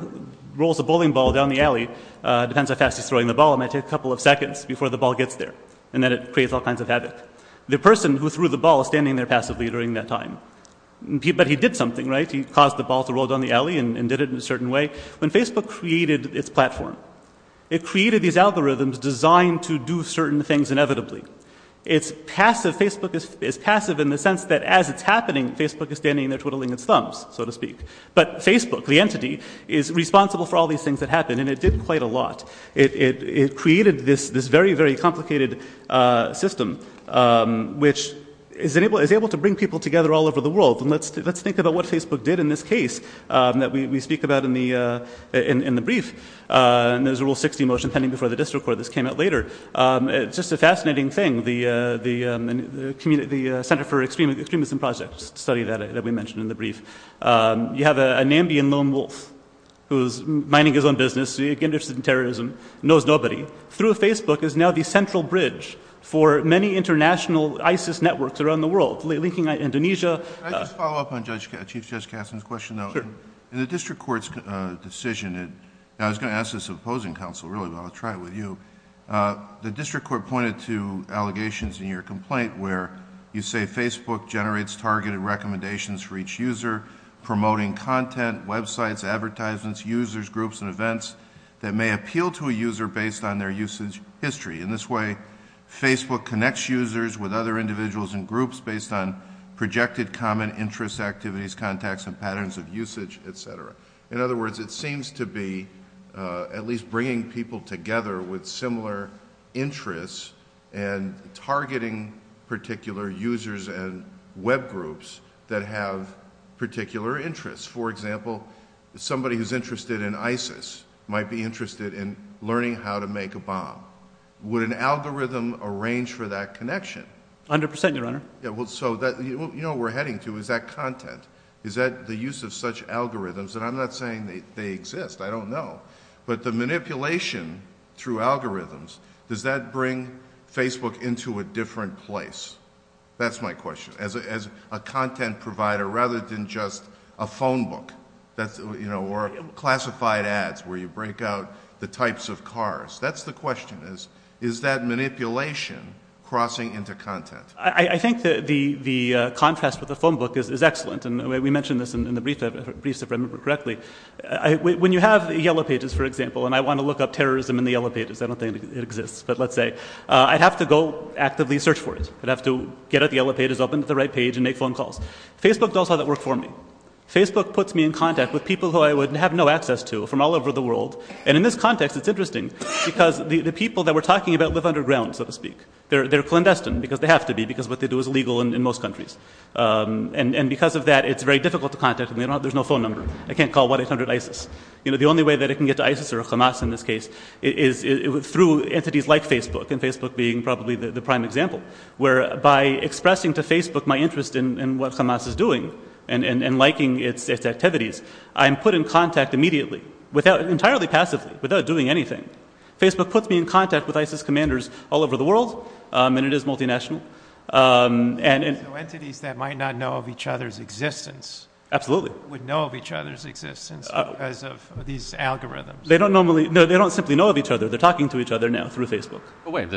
rolls a bowling ball down the alley, depends how fast he's throwing the ball, it might take a couple of seconds before the ball gets there, and then it creates all kinds of habits. The person who threw the ball is standing there passively during that time. But he did something, right? He caused the ball to roll down the alley and did it in a certain way. When Facebook created its platform, it created these algorithms designed to do certain things inevitably. It's passive. Facebook is passive in the sense that as it's happening, Facebook is standing there twiddling its thumbs, so to speak. But Facebook, the entity, is responsible for all these things that happen, and it did quite a lot. It created this very, very complicated system, which is able to bring people together all over the world. Let's think about what Facebook did in this case that we speak about in the brief. There's a Rule 60 motion pending before the district court. This came out later. It's just a fascinating thing. The Center for Extremism Projects studied that, as we mentioned in the brief. You have a Nambian lone wolf who's minding his own business, interested in terrorism, knows nobody. Through Facebook is now the central bridge for many international ISIS networks around the world, linking Indonesia. Can I just follow up on Chief Justice Katzmann's question, though? Sure. In the district court's decision, and I was going to ask this to the opposing counsel, really, but I'll try it with you. The district court pointed to allegations in your complaint where you say Facebook generates targeted recommendations for each user, promoting content, websites, advertisements, users, groups, and events that may appeal to a user based on their usage history. In this way, Facebook connects users with other individuals and groups based on projected common interest activities, contacts and patterns of usage, et cetera. In other words, it seems to be at least bringing people together with similar interests and targeting particular users and web groups that have particular interests. For example, somebody who's interested in ISIS might be interested in learning how to make a bomb. Would an algorithm arrange for that connection? 100 percent, Your Honor. You know what we're heading to is that content, the use of such algorithms. And I'm not saying they exist. I don't know. But the manipulation through algorithms, does that bring Facebook into a different place? That's my question. As a content provider rather than just a phone book or classified ads where you break out the types of cars. That's the question is, is that manipulation crossing into content? I think the contest with the phone book is excellent. And we mentioned this in the briefs, if I remember correctly. When you have the Yellow Pages, for example, and I want to look up terrorism in the Yellow Pages, I don't think it exists, but let's say, I have to go actively search for it. I have to get at the Yellow Pages, open up the right page, and make phone calls. Facebook does all that work for me. Facebook puts me in contact with people who I would have no access to from all over the world. And in this context, it's interesting because the people that we're talking about live underground, so to speak. They're clandestine because they have to be because what they do is illegal in most countries. And because of that, it's very difficult to contact them. There's no phone number. I can't call what is under ISIS. The only way that I can get to ISIS or Hamas in this case is through entities like Facebook, and Facebook being probably the prime example, where by expressing to Facebook my interest in what Hamas is doing and liking its activities, I'm put in contact immediately, entirely passively, without doing anything. Facebook puts me in contact with ISIS commanders all over the world, and it is multinational. So entities that might not know of each other's existence would know of each other's existence because of these algorithms. They don't simply know of each other. They're talking to each other now through Facebook.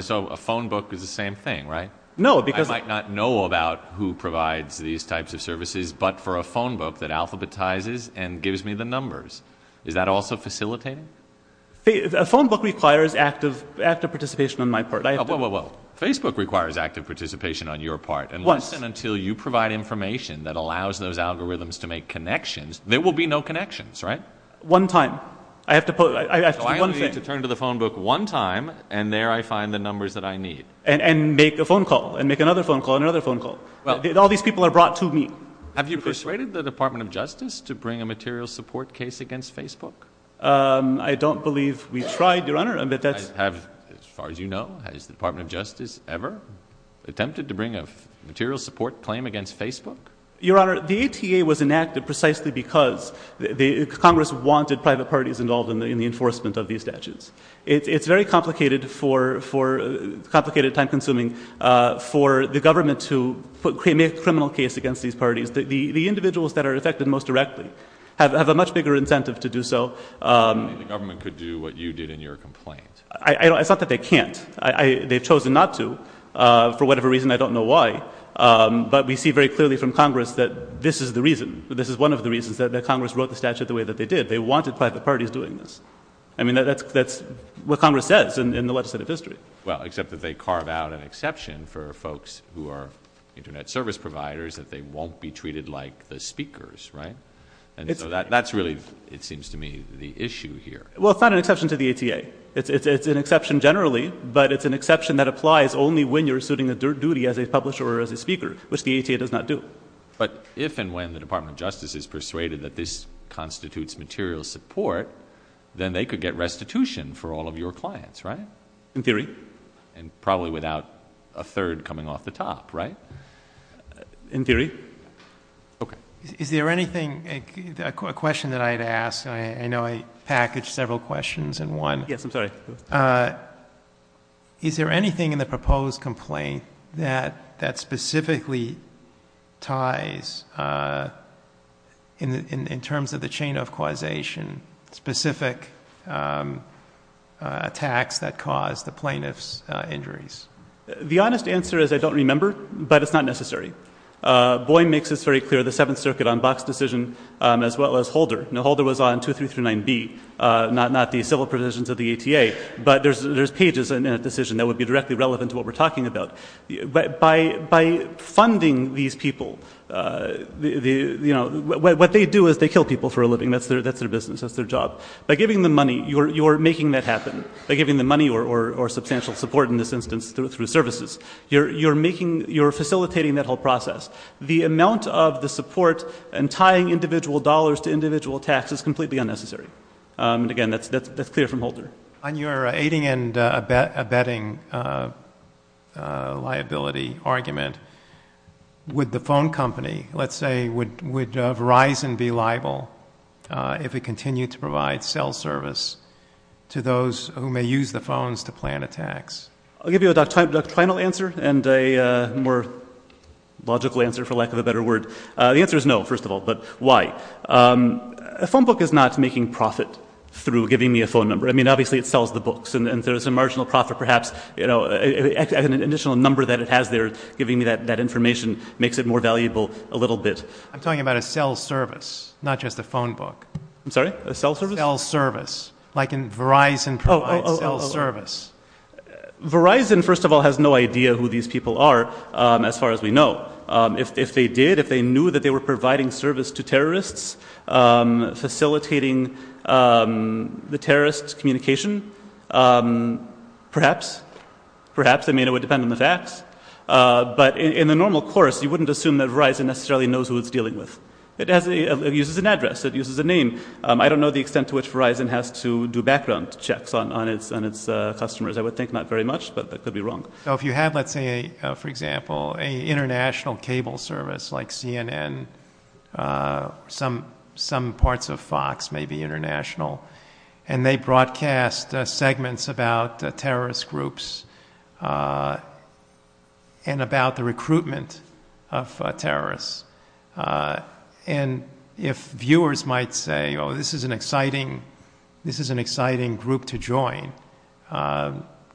So a phone book is the same thing, right? No. I might not know about who provides these types of services, but for a phone book that alphabetizes and gives me the numbers, is that also facilitating? A phone book requires active participation on my part. Facebook requires active participation on your part, and listen until you provide information that allows those algorithms to make connections. There will be no connections, right? One time. So I need to turn to the phone book one time, and there I find the numbers that I need. And make a phone call, and make another phone call, and another phone call. All these people are brought to me. Have you persuaded the Department of Justice to bring a material support case against Facebook? I don't believe we've tried, Your Honor. As far as you know, has the Department of Justice ever attempted to bring a material support claim against Facebook? Your Honor, the ATA was enacted precisely because Congress wanted private parties involved in the enforcement of these statutes. It's very complicated, time-consuming for the government to make a criminal case against these parties. The individuals that are affected most directly have a much bigger incentive to do so. The government could do what you did in your complaint. I thought that they can't. They've chosen not to for whatever reason. I don't know why. But we see very clearly from Congress that this is the reason. This is one of the reasons that Congress wrote the statute the way that they did. They wanted private parties doing this. I mean, that's what Congress says in the legislative history. Well, except that they carved out an exception for folks who are Internet service providers that they won't be treated like the speakers, right? And so that's really, it seems to me, the issue here. Well, it's not an exception to the ATA. It's an exception generally, but it's an exception that applies only when you're suiting a duty as a publisher or as a speaker, which the ATA does not do. But if and when the Department of Justice is persuaded that this constitutes material support, then they could get restitution for all of your clients, right? In theory. And probably without a third coming off the top, right? In theory. Is there anything, a question that I'd ask, I know I packaged several questions in one. Yes, I'm sorry. Is there anything in the proposed complaint that specifically ties, in terms of the chain of causation, specific attacks that caused the plaintiff's injuries? The honest answer is I don't remember, but it's not necessary. Boeing makes this very clear, the Seventh Circuit on Box decision, as well as Holder. Now, Holder was on 2339B, not the civil provisions of the ATA. But there's pages in that decision that would be directly relevant to what we're talking about. By funding these people, what they do is they kill people for a living. That's their business. That's their job. By giving them money, you're making that happen. By giving them money or substantial support, in this instance, through services. You're facilitating that whole process. The amount of the support and tying individual dollars to individual taxes is completely unnecessary. Again, that's clear from Holder. On your aiding and abetting liability argument, would the phone company, let's say, would Verizon be liable if it continued to provide cell service to those who may use the phones to plan attacks? I'll give you the final answer and a more logical answer, for lack of a better word. The answer is no, first of all. But why? A phone book is not making profit through giving me a phone number. I mean, obviously, it sells the books, and there's a marginal profit, perhaps. An additional number that it has there, giving me that information, makes it more valuable a little bit. I'm talking about a cell service, not just a phone book. I'm sorry? A cell service? A cell service, like Verizon provides a cell service. Verizon, first of all, has no idea who these people are, as far as we know. If they did, if they knew that they were providing service to terrorists, facilitating the terrorist communication, perhaps. Perhaps, I mean, it would depend on the facts. But in a normal course, you wouldn't assume that Verizon necessarily knows who it's dealing with. It uses a name. I don't know the extent to which Verizon has to do background checks on its customers. I would think not very much, but I could be wrong. If you have, let's say, for example, an international cable service like CNN, some parts of Fox may be international, and they broadcast segments about terrorist groups and about the recruitment of terrorists. And if viewers might say, oh, this is an exciting group to join,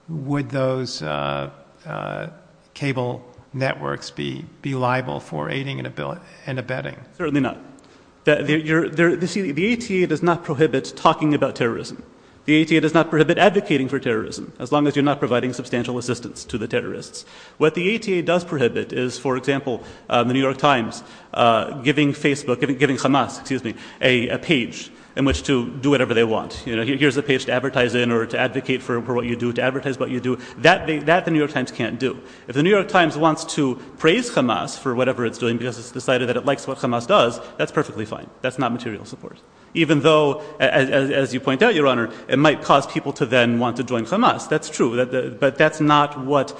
would those cable networks be liable for aiding and abetting? Certainly not. You see, the ETA does not prohibit talking about terrorism. The ETA does not prohibit advocating for terrorism, as long as you're not providing substantial assistance to the terrorists. What the ETA does prohibit is, for example, the New York Times giving Facebook, giving Hamas, excuse me, a page in which to do whatever they want. You know, here's a page to advertise in or to advocate for what you do, to advertise what you do. That the New York Times can't do. If the New York Times wants to praise Hamas for whatever it's doing because it's decided that it likes what Hamas does, that's perfectly fine. That's not material support, even though, as you point out, Your Honor, it might cause people to then want to join Hamas. That's true. But that's not what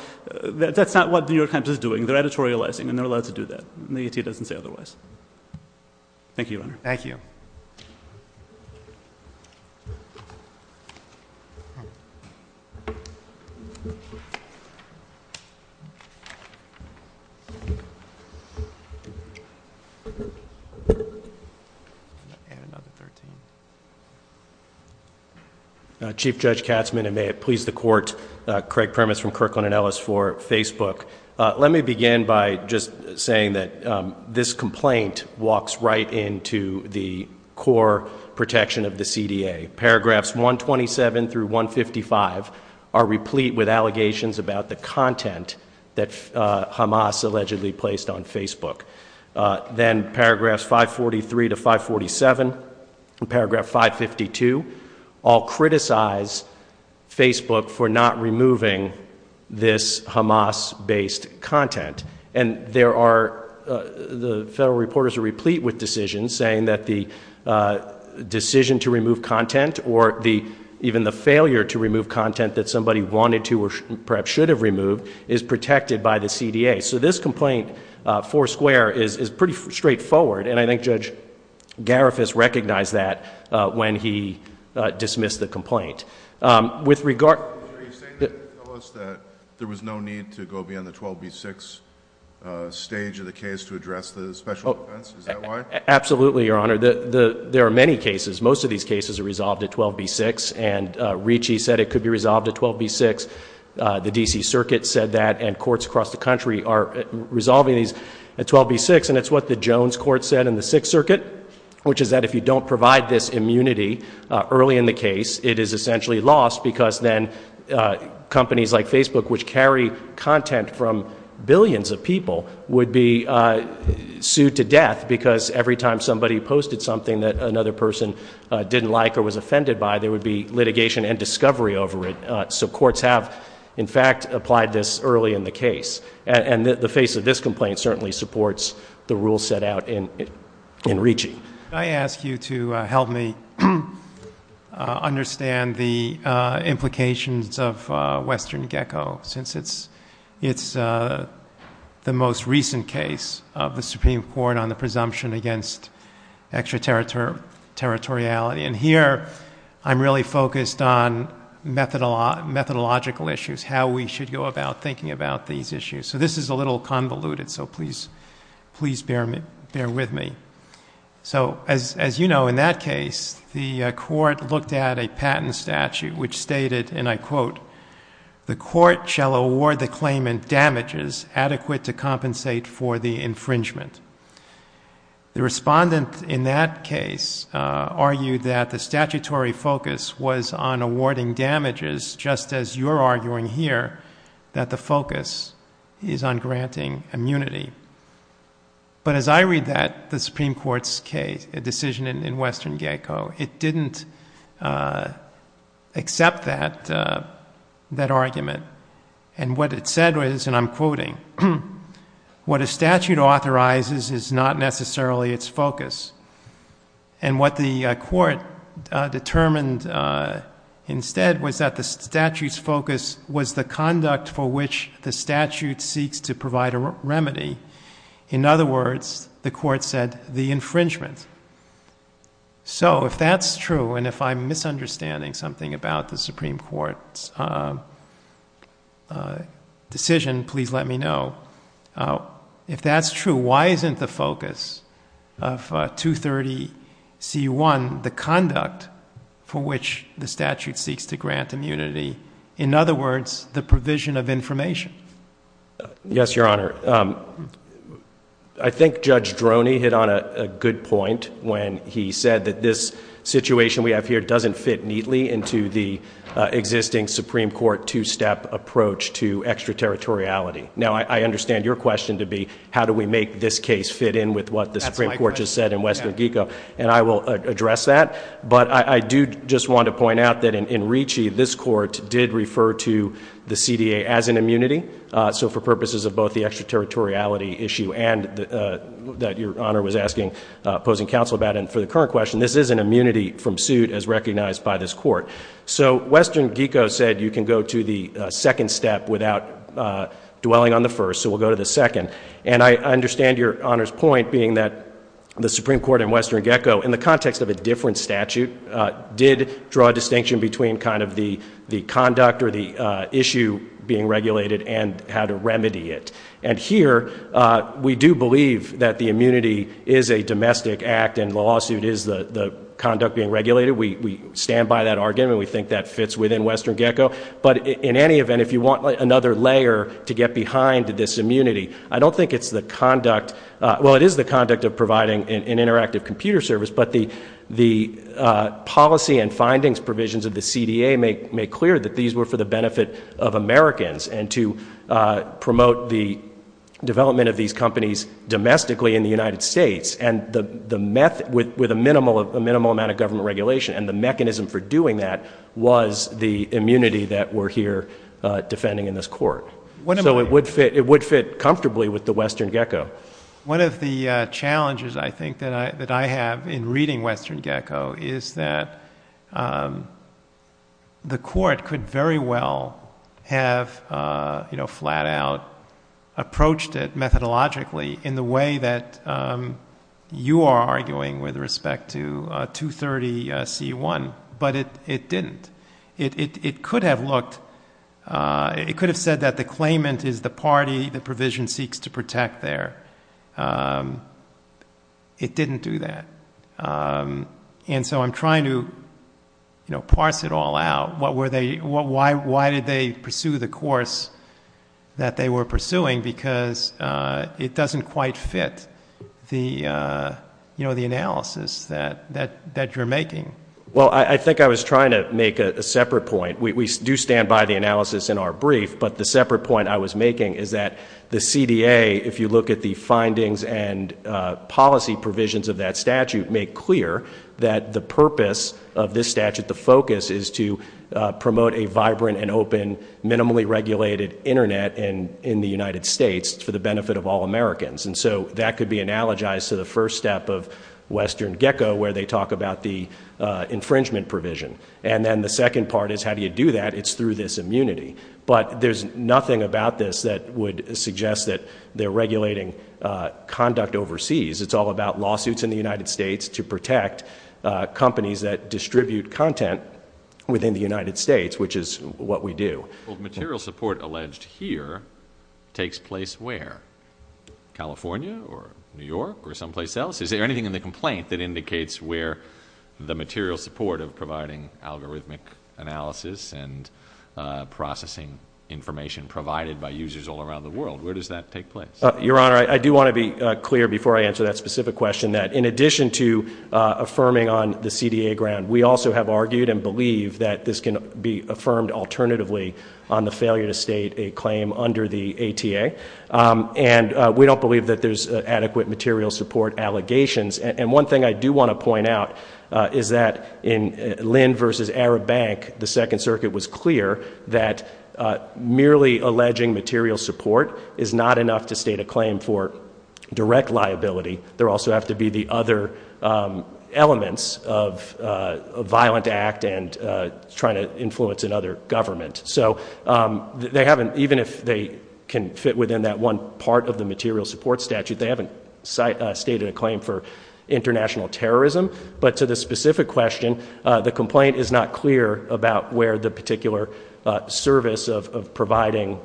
the New York Times is doing. They're editorializing, and they're allowed to do that. The ETA doesn't say otherwise. Thank you, Your Honor. Thank you. Chief Judge Katzmann, and may it please the Court, Craig Primus from Kirkland & Ellis for Facebook. Let me begin by just saying that this complaint walks right into the core protection of the CDA. Paragraphs 127 through 155 are replete with allegations about the content that Hamas allegedly placed on Facebook. Then paragraphs 543 to 547 and paragraph 552 all criticize Facebook for not removing this Hamas-based content. And the federal reporters are replete with decisions saying that the decision to remove content or even the failure to remove content that somebody wanted to or perhaps should have removed is protected by the CDA. So this complaint, four square, is pretty straightforward. And I think Judge Garifas recognized that when he dismissed the complaint. With regard— Were you saying that there was no need to go beyond the 12B6 stage of the case to address the special defense? Is that why? Absolutely, Your Honor. There are many cases. Most of these cases are resolved at 12B6. And Ricci said it could be resolved at 12B6. The D.C. Circuit said that, and courts across the country are resolving these at 12B6. And it's what the Jones Court said in the Sixth Circuit, which is that if you don't provide this immunity early in the case, it is essentially lost because then companies like Facebook, which carry content from billions of people, would be sued to death. Because every time somebody posted something that another person didn't like or was offended by, there would be litigation and discovery over it. So courts have, in fact, applied this early in the case. And the face of this complaint certainly supports the rules set out in Ricci. Could I ask you to help me understand the implications of Western GECO, since it's the most recent case of the Supreme Court on the presumption against extraterritoriality? And here I'm really focused on methodological issues, how we should go about thinking about these issues. So this is a little convoluted, so please bear with me. So as you know, in that case, the court looked at a patent statute which stated, and I quote, The court shall award the claimant damages adequate to compensate for the infringement. The respondent in that case argued that the statutory focus was on awarding damages, just as you're arguing here that the focus is on granting immunity. But as I read that, the Supreme Court's case, the decision in Western GECO, it didn't accept that argument. And what it said was, and I'm quoting, What a statute authorizes is not necessarily its focus. And what the court determined instead was that the statute's focus was the conduct for which the statute seeks to provide a remedy. In other words, the court said the infringement. So if that's true, and if I'm misunderstanding something about the Supreme Court's decision, please let me know. If that's true, why isn't the focus of 230C1 the conduct for which the statute seeks to grant immunity? In other words, the provision of information? Yes, Your Honor. I think Judge Droney hit on a good point when he said that this situation we have here doesn't fit neatly into the existing Supreme Court two-step approach to extraterritoriality. Now, I understand your question to be, how do we make this case fit in with what the Supreme Court just said in Western GECO? And I will address that. But I do just want to point out that in Ricci, this court did refer to the CDA as an immunity. So for purposes of both the extraterritoriality issue and that Your Honor was asking, posing counsel about, and for the current question, this is an immunity from suit as recognized by this court. So Western GECO said you can go to the second step without dwelling on the first, so we'll go to the second. And I understand Your Honor's point being that the Supreme Court in Western GECO, in the context of a different statute, did draw a distinction between kind of the conduct or the issue being regulated and how to remedy it. And here, we do believe that the immunity is a domestic act and the lawsuit is the conduct being regulated. We stand by that argument. We think that fits within Western GECO. But in any event, if you want another layer to get behind this immunity, I don't think it's the conduct – well, it is the conduct of providing an interactive computer service, but the policy and findings provisions of the CDA make clear that these were for the benefit of Americans and to promote the development of these companies domestically in the United States. And with a minimal amount of government regulation, and the mechanism for doing that was the immunity that we're here defending in this court. So it would fit comfortably with the Western GECO. One of the challenges, I think, that I have in reading Western GECO is that the court could very well have, you know, flat out approached it methodologically in the way that you are arguing with respect to 230C1, but it didn't. It could have looked – it could have said that the claimant is the party the provision seeks to protect there. It didn't do that. And so I'm trying to, you know, parse it all out. What were they – why did they pursue the course that they were pursuing? Because it doesn't quite fit the, you know, the analysis that you're making. Well, I think I was trying to make a separate point. We do stand by the analysis in our brief, but the separate point I was making is that the CDA, if you look at the findings and policy provisions of that statute, make clear that the purpose of this statute, the focus, is to promote a vibrant and open, minimally regulated Internet in the United States for the benefit of all Americans. And so that could be analogized to the first step of Western GECO, where they talk about the infringement provision. And then the second part is how do you do that? It's through this immunity. But there's nothing about this that would suggest that they're regulating conduct overseas. It's all about lawsuits in the United States to protect companies that distribute content within the United States, which is what we do. Well, the material support alleged here takes place where? California or New York or someplace else? Is there anything in the complaint that indicates where the material support of providing algorithmic analysis and processing information provided by users all around the world? Where does that take place? Your Honor, I do want to be clear before I answer that specific question that in addition to affirming on the CDA ground, we also have argued and believe that this can be affirmed alternatively on the failure to state a claim under the ATA. And we don't believe that there's adequate material support allegations. And one thing I do want to point out is that in Lynn versus Arab Bank, the Second Circuit was clear that merely alleging material support is not enough to state a claim for direct liability. There also have to be the other elements of a violent act and trying to influence another government. Even if they can fit within that one part of the material support statute, they haven't stated a claim for international terrorism. But to the specific question, the complaint is not clear about where the particular service of providing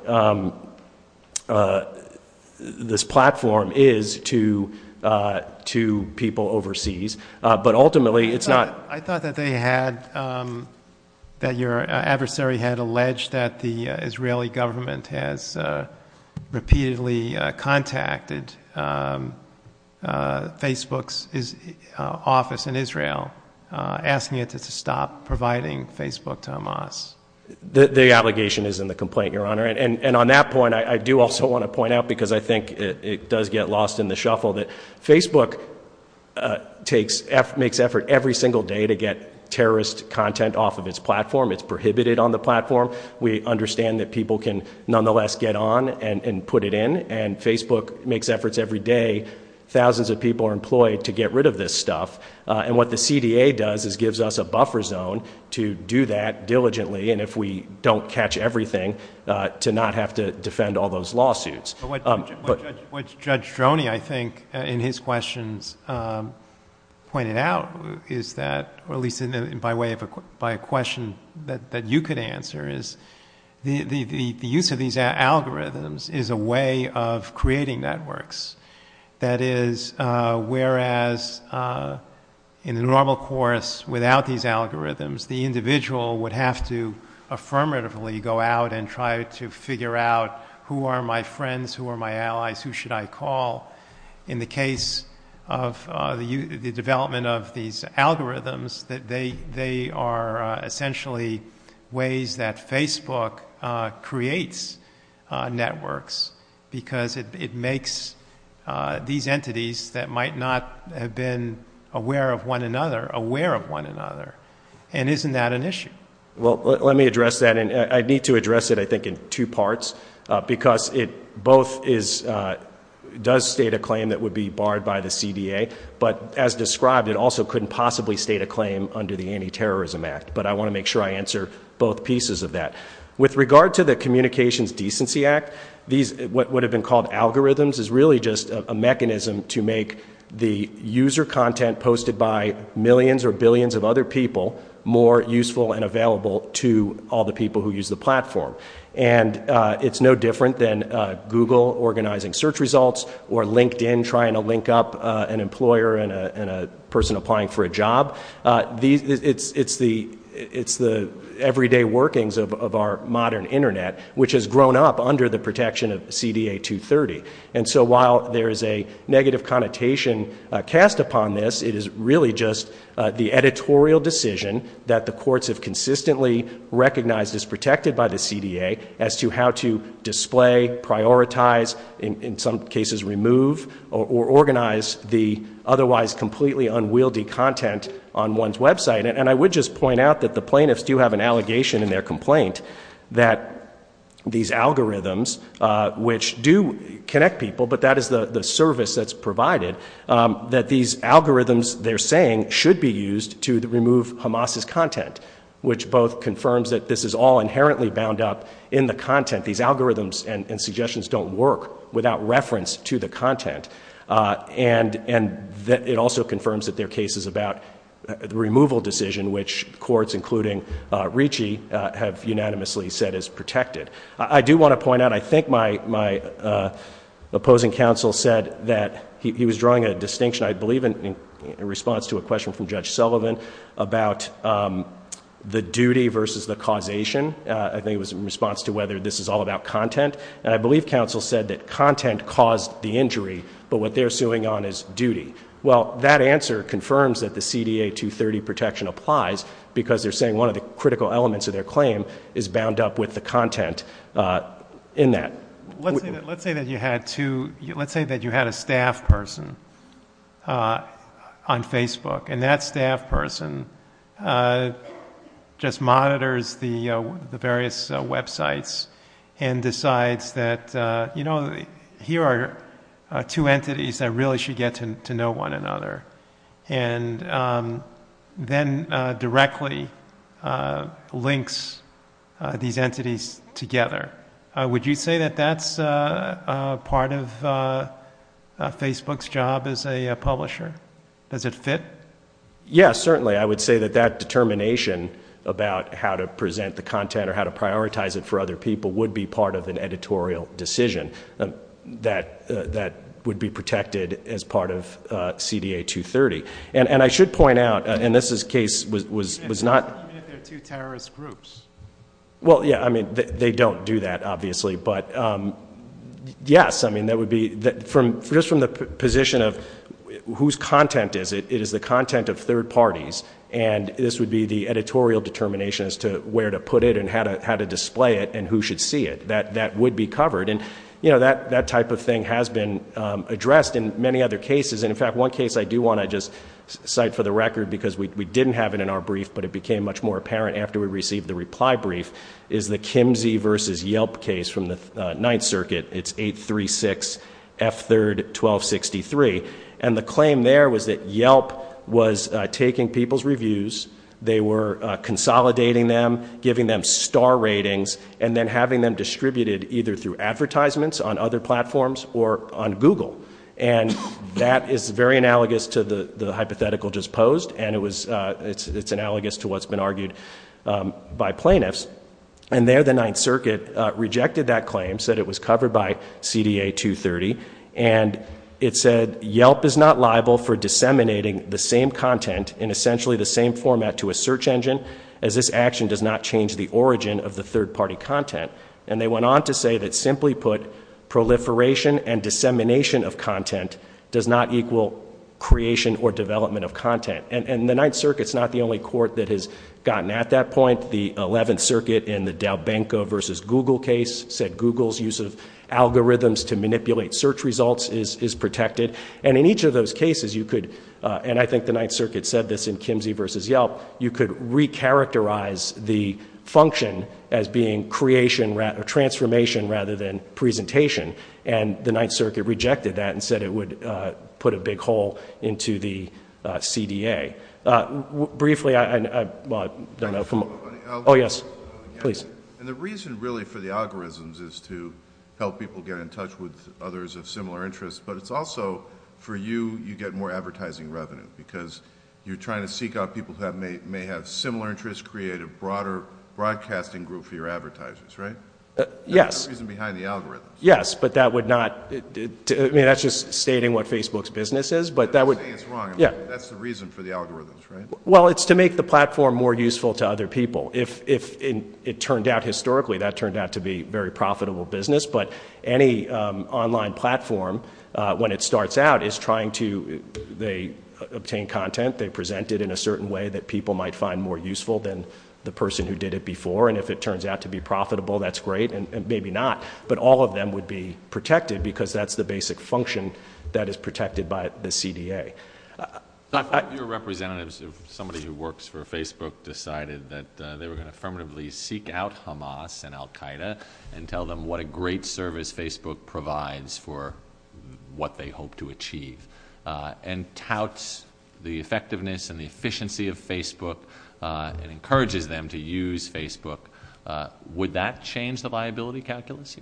this platform is to people overseas. I thought that your adversary had alleged that the Israeli government has repeatedly contacted Facebook's office in Israel asking it to stop providing Facebook to Hamas. The obligation is in the complaint, Your Honor. And on that point, I do also want to point out because I think it does get lost in the shuffle that Facebook makes effort every single day to get terrorist content off of its platform. It's prohibited on the platform. We understand that people can nonetheless get on and put it in. And Facebook makes efforts every day. Thousands of people are employed to get rid of this stuff. And what the CDA does is gives us a buffer zone to do that diligently. And if we don't catch everything, to not have to defend all those lawsuits. What Judge Stroni, I think, in his questions pointed out is that, or at least by way of a question that you could answer, is the use of these algorithms is a way of creating networks. That is, whereas in a normal course without these algorithms, the individual would have to affirmatively go out and try to figure out who are my friends, who are my allies, who should I call. In the case of the development of these algorithms, they are essentially ways that Facebook creates networks because it makes these entities that might not have been aware of one another, aware of one another. And isn't that an issue? Well, let me address that. And I need to address it, I think, in two parts. Because it both does state a claim that would be barred by the CDA, but as described, it also couldn't possibly state a claim under the Anti-Terrorism Act. But I want to make sure I answer both pieces of that. With regard to the Communications Decency Act, what have been called algorithms is really just a mechanism to make the user content posted by millions or billions of other people more useful and available to all the people who use the platform. And it's no different than Google organizing search results or LinkedIn trying to link up an employer and a person applying for a job. It's the everyday workings of our modern Internet, which has grown up under the protection of CDA 230. And so while there is a negative connotation cast upon this, it is really just the editorial decision that the courts have consistently recognized as protected by the CDA as to how to display, prioritize, in some cases remove, or organize the otherwise completely unwieldy content on one's website. And I would just point out that the plaintiffs do have an allegation in their complaint that these algorithms, which do connect people, but that is the service that's provided, that these algorithms they're saying should be used to remove Hamas' content, which both confirms that this is all inherently bound up in the content. These algorithms and suggestions don't work without reference to the content. And it also confirms that there are cases about removal decision, which courts, including Ricci, have unanimously said is protected. I do want to point out, I think my opposing counsel said that he was drawing a distinction, I believe in response to a question from Judge Sullivan, about the duty versus the causation. I think it was in response to whether this is all about content. And I believe counsel said that content caused the injury, but what they're suing on is duty. Well, that answer confirms that the CDA 230 protection applies, because they're saying one of the critical elements of their claim is bound up with the content in that. Let's say that you had a staff person on Facebook, and that staff person just monitors the various websites and decides that, you know, here are two entities that really should get to know one another, and then directly links these entities together. Would you say that that's part of Facebook's job as a publisher? Does it fit? Yes, certainly. I would say that that determination about how to present the content or how to prioritize it for other people would be part of an editorial decision that would be protected as part of CDA 230. And I should point out, and this case was not… They're two terrorist groups. Well, yeah, I mean, they don't do that, obviously. But, yes, I mean, that would be… Just from the position of whose content is it, it is the content of third parties, and this would be the editorial determination as to where to put it and how to display it and who should see it. That would be covered. And, you know, that type of thing has been addressed in many other cases. And, in fact, one case I do want to just cite for the record because we didn't have it in our brief, but it became much more apparent after we received the reply brief, is the Kimsey versus Yelp case from the Ninth Circuit. It's 836F31263. And the claim there was that Yelp was taking people's reviews. They were consolidating them, giving them star ratings, and then having them distributed either through advertisements on other platforms or on Google. And that is very analogous to the hypothetical just posed, and it's analogous to what's been argued by plaintiffs. And there the Ninth Circuit rejected that claim, said it was covered by CDA 230. And it said Yelp is not liable for disseminating the same content in essentially the same format to a search engine as this action does not change the origin of the third-party content. And they went on to say that, simply put, proliferation and dissemination of content does not equal creation or development of content. And the Ninth Circuit is not the only court that has gotten at that point. The Eleventh Circuit in the Dalbanco versus Google case said Google's use of algorithms to manipulate search results is protected. And in each of those cases you could, and I think the Ninth Circuit said this in Kimsey versus Yelp, you could recharacterize the function as being transformation rather than presentation. And the Ninth Circuit rejected that and said it would put a big hole into the CDA. Briefly, I don't know if I'm, oh yes, please. And the reason really for the algorithms is to help people get in touch with others of similar interests, but it's also for you, you get more advertising revenue because you're trying to seek out people that may have similar interests, create a broader broadcasting group for your advertisers, right? Yes. There's a reason behind the algorithms. Yes, but that would not, I mean that's just stating what Facebook's business is, but that would. I don't think it's wrong. Yeah. That's the reason for the algorithms, right? Well, it's to make the platform more useful to other people. If it turned out historically that turned out to be very profitable business, but any online platform when it starts out is trying to, they obtain content, they present it in a certain way that people might find more useful than the person who did it before. And if it turns out to be profitable, that's great, and maybe not. But all of them would be protected because that's the basic function that is protected by the CDA. Your representatives, somebody who works for Facebook decided that they were going to permanently seek out Hamas and Al Qaeda and tell them what a great service Facebook provides for what they hope to achieve and touts the effectiveness and the efficiency of Facebook and encourages them to use Facebook. Would that change the viability calculus?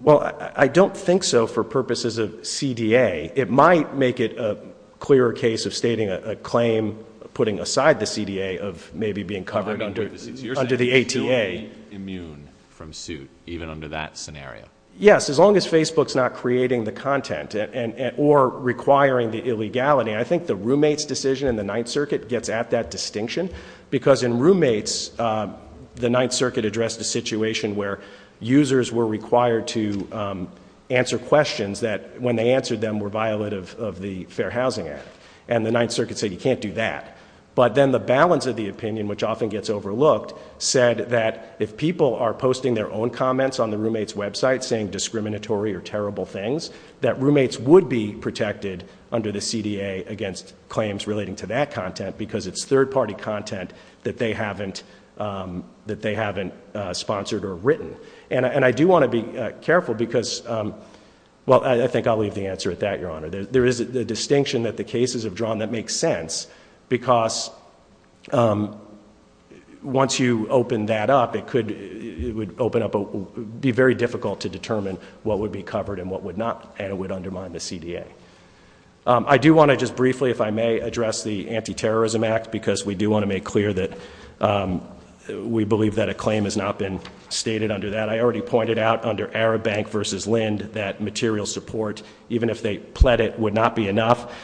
Well, I don't think so for purposes of CDA. It might make it a clearer case of stating a claim, putting aside the CDA of maybe being covered under the A2A. You're not immune from suit even under that scenario? Yes, as long as Facebook's not creating the content or requiring the illegality. I think the roommate's decision in the Ninth Circuit gets at that distinction because in roommates, the Ninth Circuit addressed a situation where users were required to answer questions that when they answered them were violative of the Fair Housing Act. And the Ninth Circuit said you can't do that. But then the balance of the opinion, which often gets overlooked, said that if people are posting their own comments on the roommate's website saying discriminatory or terrible things, that roommates would be protected under the CDA against claims relating to that content because it's third-party content that they haven't sponsored or written. And I do want to be careful because, well, I think I'll leave the answer at that, Your Honor. There is a distinction that the cases have drawn that makes sense because once you open that up, it would be very difficult to determine what would be covered and what would undermine the CDA. I do want to just briefly, if I may, address the Anti-Terrorism Act because we do want to make clear that we believe that a claim has not been stated under that. And I already pointed out under Arab Bank v. Lind that material support, even if they pled it, would not be enough.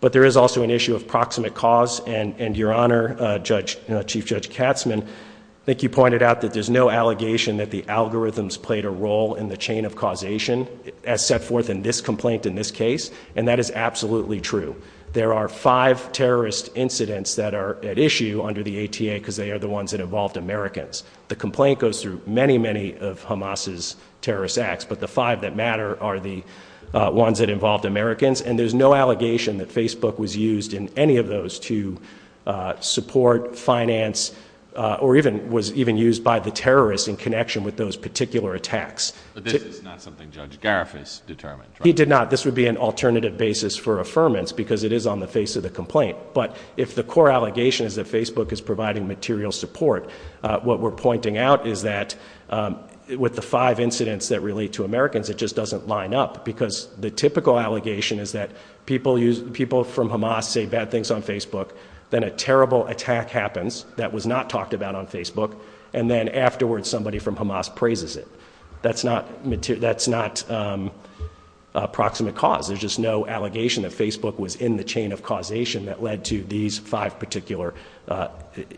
But there is also an issue of proximate cause. And, Your Honor, Chief Judge Katzman, I think you pointed out that there's no allegation that the algorithms played a role in the chain of causation as set forth in this complaint in this case. And that is absolutely true. There are five terrorist incidents that are at issue under the ATA because they are the ones that involved Americans. The complaint goes through many, many of Hamas's terrorist acts, but the five that matter are the ones that involved Americans. And there's no allegation that Facebook was used in any of those to support, finance, or even was even used by the terrorists in connection with those particular attacks. But this is not something Judge Gareth has determined, right? He did not. This would be an alternative basis for affirmance because it is on the face of the complaint. But if the core allegation is that Facebook is providing material support, what we're pointing out is that with the five incidents that relate to Americans, it just doesn't line up. Because the typical allegation is that people from Hamas say bad things on Facebook, then a terrible attack happens that was not talked about on Facebook, and then afterwards somebody from Hamas praises it. That's not proximate cause. There's just no allegation that Facebook was in the chain of causation that led to these five particular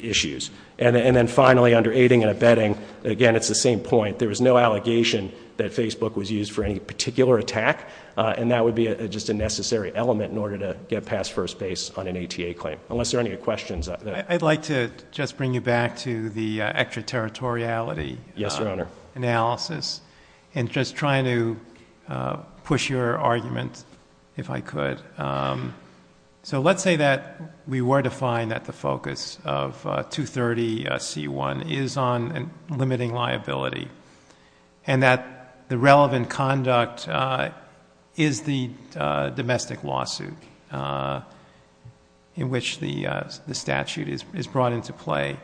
issues. And then finally, under aiding and abetting, again, it's the same point. There was no allegation that Facebook was used for any particular attack, and that would be just a necessary element in order to get past first base on an ATA claim. Unless there are any questions. I'd like to just bring you back to the extraterritoriality analysis and just trying to push your argument, if I could. So let's say that we were to find that the focus of 230C1 is on limiting liability and that the relevant conduct is the domestic lawsuit in which the statute is brought into play.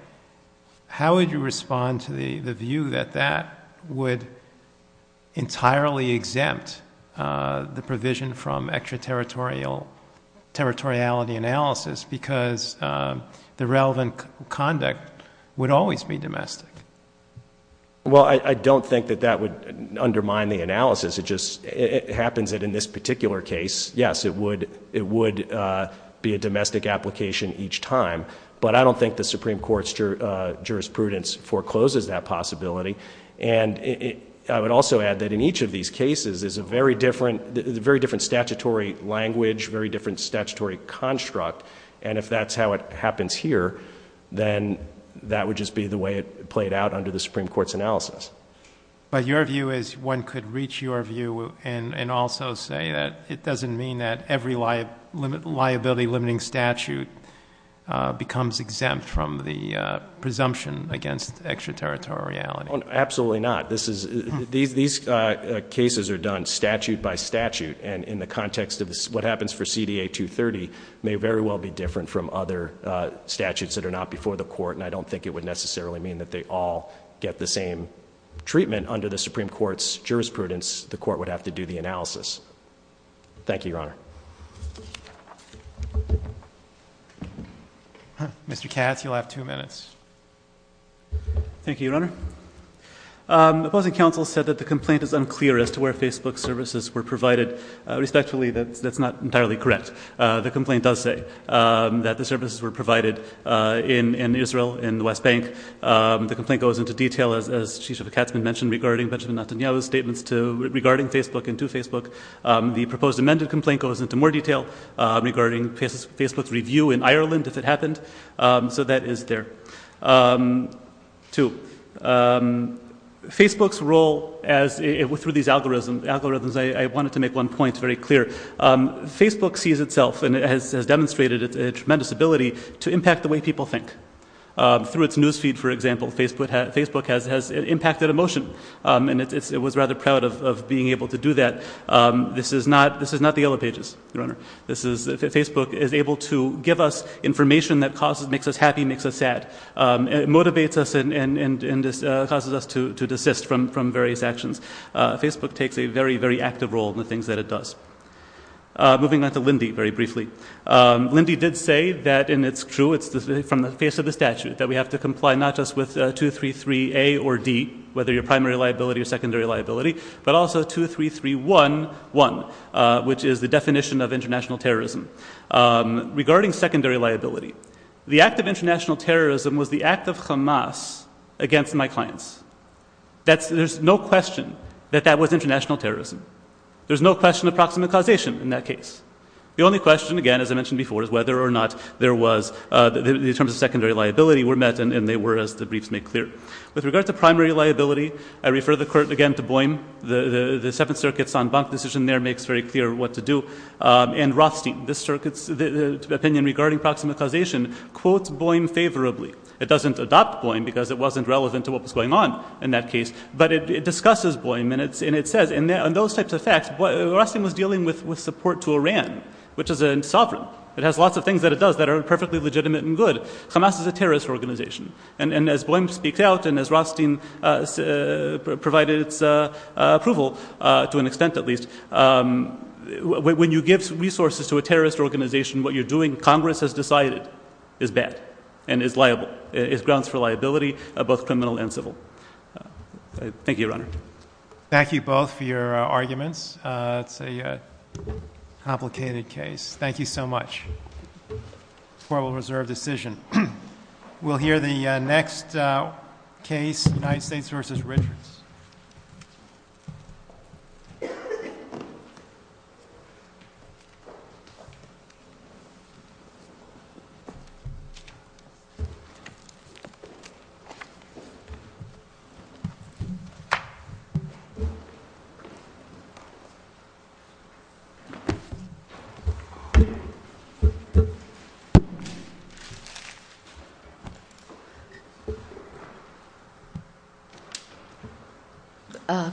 How would you respond to the view that that would entirely exempt the provision from extraterritoriality analysis because the relevant conduct would always be domestic? Well, I don't think that that would undermine the analysis. It just happens that in this particular case, yes, it would be a domestic application each time. But I don't think the Supreme Court's jurisprudence forecloses that possibility. And I would also add that in each of these cases, there's a very different statutory language, very different statutory construct. And if that's how it happens here, then that would just be the way it played out under the Supreme Court's analysis. But your view is one could reach your view and also say that it doesn't mean that every liability limiting statute becomes exempt from the presumption against extraterritoriality. Absolutely not. These cases are done statute by statute. And in the context of what happens for CDA 230 may very well be different from other statutes that are not before the court. And I don't think it would necessarily mean that they all get the same treatment under the Supreme Court's jurisprudence. The court would have to do the analysis. Thank you, Your Honor. Mr. Cass, you'll have two minutes. Thank you, Your Honor. The opposing counsel said that the complaint is unclear as to where Facebook services were provided. Respectfully, that's not entirely correct. The complaint does say that the services were provided in Israel, in the West Bank. The complaint goes into detail, as Chief Justice Katzman mentioned, regarding Benjamin Netanyahu's statements regarding Facebook and to Facebook. The proposed amended complaint goes into more detail regarding Facebook's review in Ireland, if it happened. So that is there. Two, Facebook's role through these algorithms, I wanted to make one point that's very clear. Facebook sees itself and has demonstrated a tremendous ability to impact the way people think. Through its news feed, for example, Facebook has impacted emotion, and it was rather proud of being able to do that. Facebook is able to give us information that makes us happy, makes us sad. It motivates us and causes us to desist from various actions. Facebook takes a very, very active role in the things that it does. Moving on to Lindy, very briefly. Lindy did say that, and it's true, it's from the face of the statute, that we have to comply not just with 233A or D, whether you're primary liability or secondary liability, but also 23311, which is the definition of international terrorism. Regarding secondary liability, the act of international terrorism was the act of Hamas against my clients. There's no question that that was international terrorism. There's no question of proximate causation in that case. The only question, again, as I mentioned before, is whether or not there was, in terms of secondary liability, were met, and they were, as the briefs make clear. With regard to primary liability, I refer the court again to Boehm. The Seventh Circuit's en banc decision there makes very clear what to do. And Rothstein, the opinion regarding proximate causation, quotes Boehm favorably. It doesn't adopt Boehm because it wasn't relevant to what was going on in that case, but it discusses Boehm, and it says, in those types of facts, Rothstein was dealing with support to Iran, which is sovereign. It has lots of things that it does that are perfectly legitimate and good. Hamas is a terrorist organization. And as Boehm speaks out and as Rothstein provided approval, to an extent at least, when you give resources to a terrorist organization, what you're doing, Congress has decided, is bad and is liable. It's grounds for liability, both criminal and civil. Thank you, Your Honor. Thank you both for your arguments. It's a complicated case. Thank you so much. Formal reserve decision. We'll hear the next case, United States v. Richards.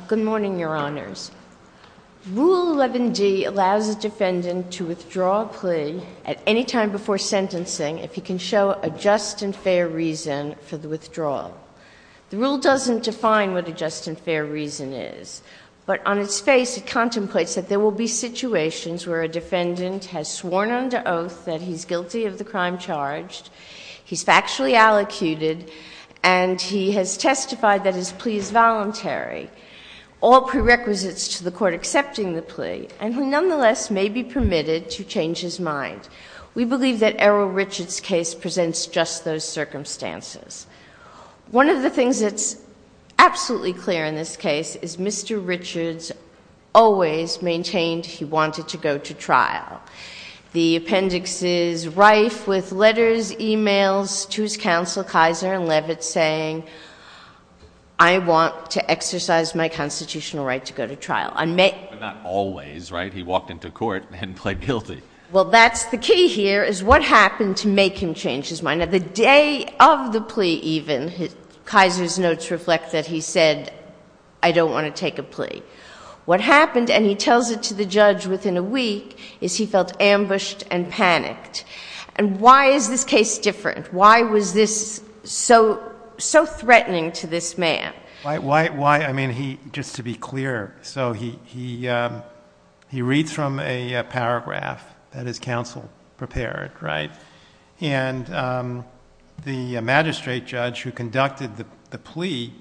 Good morning, Your Honors. Rule 11G allows a defendant to withdraw a plea at any time before sentencing if he can show a just and fair reason for the withdrawal. The rule doesn't define what a just and fair reason is, but on its face it contemplates that there will be situations where a defendant has sworn under oath that he's guilty of the crime charged, he's factually allocuted, and he has testified that his plea is voluntary, all prerequisites to the court accepting the plea, and who nonetheless may be permitted to change his mind. We believe that Errol Richards' case presents just those circumstances. One of the things that's absolutely clear in this case is Mr. Richards always maintained he wanted to go to trial. The appendix is rife with letters, e-mails to his counsel, Kaiser and Levitt, saying, I want to exercise my constitutional right to go to trial. Not always, right? He walked into court and pled guilty. Well, that's the key here is what happened to make him change his mind. At the day of the plea, even, Kaiser's notes reflect that he said, I don't want to take a plea. What happened, and he tells it to the judge within a week, is he felt ambushed and panicked. And why is this case different? Why was this so threatening to this man? Why? I mean, just to be clear, so he reads from a paragraph that his counsel prepared, right? And the magistrate judge who conducted the plea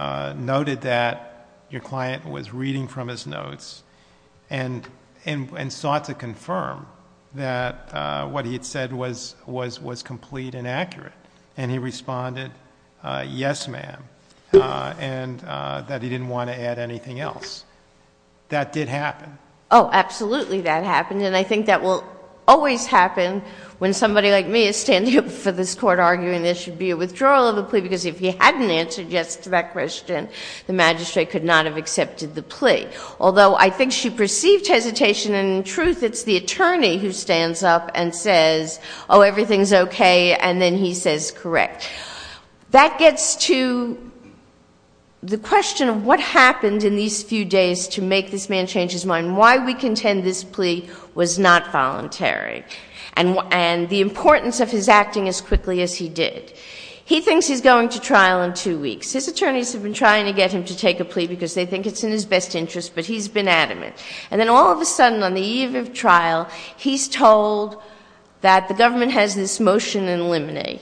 noted that your client was reading from his notes and sought to confirm that what he had said was complete and accurate. And he responded, yes, ma'am, and that he didn't want to add anything else. That did happen. Oh, absolutely that happened. And I think that will always happen when somebody like me is standing up for this court arguing there should be a withdrawal of the plea because if he hadn't answered yes to that question, the magistrate could not have accepted the plea. Although I think she perceived hesitation, and in truth it's the attorney who stands up and says, oh, everything's okay, and then he says correct. That gets to the question of what happened in these few days to make this man change his mind. Why we contend this plea was not voluntary, and the importance of his acting as quickly as he did. He thinks he's going to trial in two weeks. His attorneys have been trying to get him to take a plea because they think it's in his best interest, but he's been adamant. And then all of a sudden on the evening of trial, he's told that the government has this motion in limine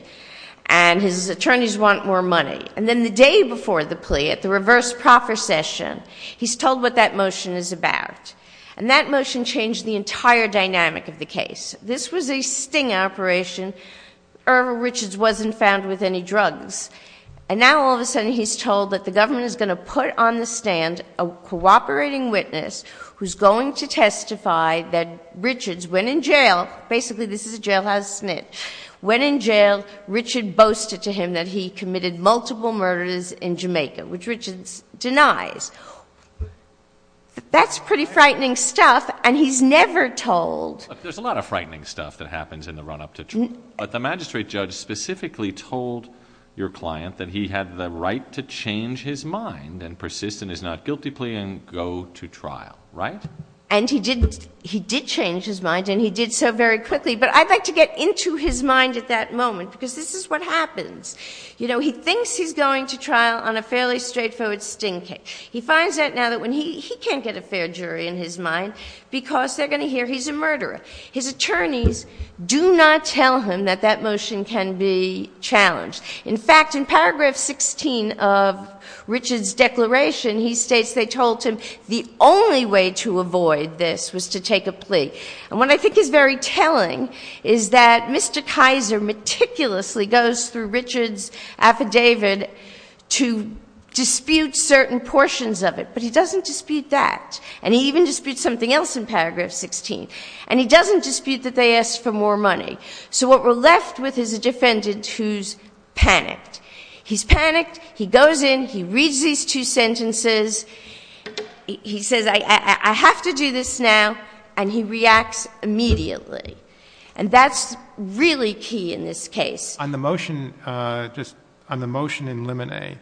and his attorneys want more money. And then the day before the plea, at the reverse proper session, he's told what that motion is about. And that motion changed the entire dynamic of the case. This was a sting operation. Irma Richards wasn't found with any drugs. And now all of a sudden he's told that the government is going to put on the stand a cooperating witness who's going to testify that Richards went in jail. Basically this is a jailhouse smit. When in jail, Richards boasted to him that he committed multiple murders in Jamaica, which Richards denies. That's pretty frightening stuff, and he's never told. There's a lot of frightening stuff that happens in the run-up to trial. But the magistrate judge specifically told your client that he had the right to change his mind and persist in his not guilty plea and go to trial, right? And he did change his mind, and he did so very quickly. But I'd like to get into his mind at that moment because this is what happens. You know, he thinks he's going to trial on a fairly straightforward sting case. He finds out now that he can't get a fair jury in his mind because they're going to hear he's a murderer. His attorneys do not tell him that that motion can be challenged. In fact, in paragraph 16 of Richards' declaration, he states they told him the only way to avoid this was to take a plea. And what I think is very telling is that Mr. Tizer meticulously goes through Richards' affidavit to dispute certain portions of it, but he doesn't dispute that. And he even disputes something else in paragraph 16. And he doesn't dispute that they asked for more money. So what we're left with is a defendant who's panicked. He's panicked. He goes in. He reads these two sentences. He says, I have to do this now. And he reacts immediately. And that's really key in this case. On the motion in limine,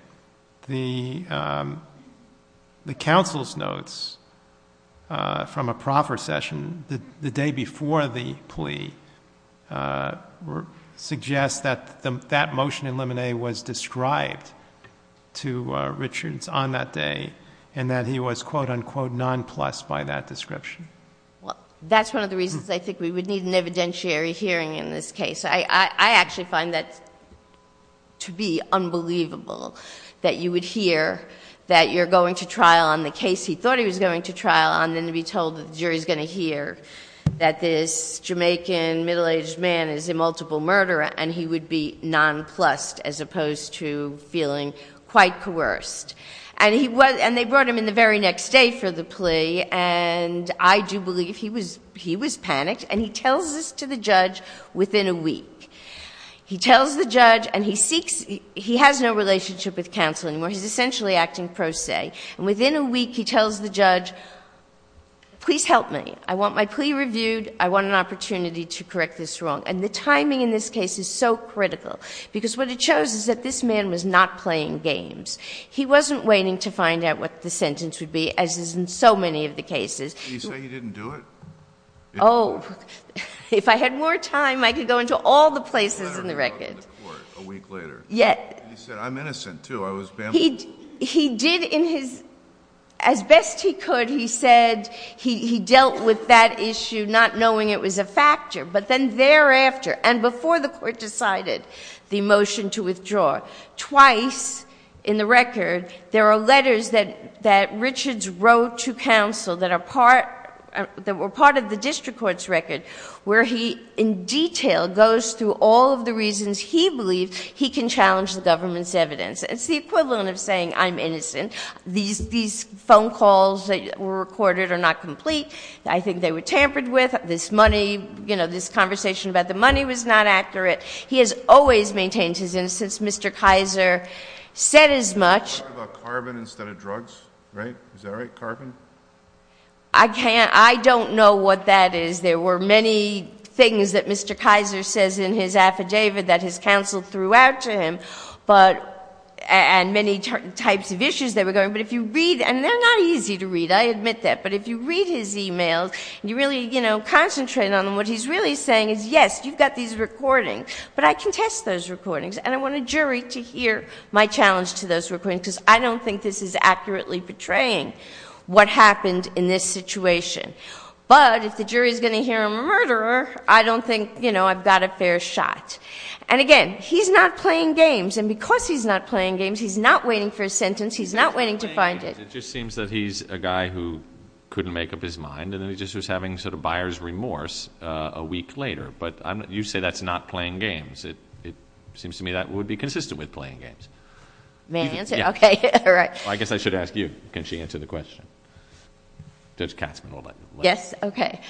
the counsel's notes from a proper session the day before the plea suggest that that motion in limine was described to Richards on that day and that he was, quote, unquote, nonplussed by that description. That's one of the reasons I think we would need an evidentiary hearing in this case. I actually find that to be unbelievable that you would hear that you're going to trial on the case he thought he was going to trial on and to be told that the jury's going to hear that this Jamaican middle-aged man is a multiple murderer and he would be nonplussed as opposed to feeling quite coerced. And they brought him in the very next day for the plea, and I do believe he was panicked. And he tells this to the judge within a week. He tells the judge, and he has no relationship with counseling. He's essentially acting pro se. And within a week, he tells the judge, please help me. I want my plea reviewed. I want an opportunity to correct this wrong. And the timing in this case is so critical because what it shows is that this man was not playing games. He wasn't waiting to find out what the sentence would be, as is in so many of the cases. He said he didn't do it. Oh. If I had more time, I could go into all the places in the record. A week later. Yes. He said, I'm innocent, too. He did, as best he could, he said he dealt with that issue not knowing it was a factor. But then thereafter, and before the court decided the motion to withdraw, twice in the record, there are letters that Richards wrote to counsel that were part of the district court's record where he in detail goes through all of the reasons he believes he can challenge the government's evidence. It's the equivalent of saying, I'm innocent. These phone calls that were recorded are not complete. I think they were tampered with. This money, you know, this conversation about the money was not accurate. He has always maintained his innocence. Mr. Kaiser said as much. Carbon instead of drugs, right? Is that right? Carbon? I can't. I don't know what that is. There were many things that Mr. Kaiser says in his affidavit that his counsel threw out to him. And many types of issues that were going on. But if you read, and they're not easy to read, I admit that. But if you read his e-mails, you really, you know, concentrate on what he's really saying is, yes, you've got these recordings. But I can test those recordings, and I want a jury to hear my challenge to those recordings because I don't think this is accurately portraying what happened in this situation. But if the jury is going to hear I'm a murderer, I don't think, you know, I've got a fair shot. And, again, he's not playing games. And because he's not playing games, he's not waiting for a sentence. He's not waiting to find it. It just seems that he's a guy who couldn't make up his mind, and then he just was having sort of buyer's remorse a week later. But you say that's not playing games. It seems to me that would be consistent with playing games. May I answer? Okay. All right. I guess I should ask you. Can she answer the question? Yes? Okay.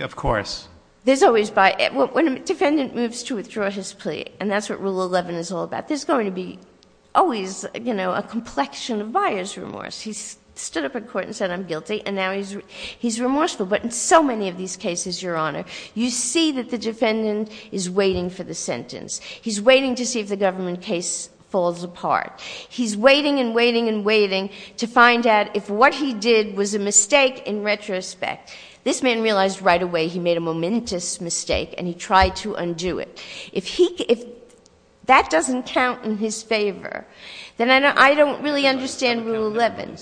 Of course. When a defendant moves to withdraw his plea, and that's what Rule 11 is all about, there's going to be always, you know, a complexion of buyer's remorse. He's stood up in court and said I'm guilty, and now he's remorseful. But in so many of these cases, Your Honor, you see that the defendant is waiting for the sentence. He's waiting to see if the government case falls apart. He's waiting and waiting and waiting to find out if what he did was a mistake in retrospect. This man realized right away he made a momentous mistake, and he tried to undo it. If that doesn't count in his favor, then I don't really understand Rule 11.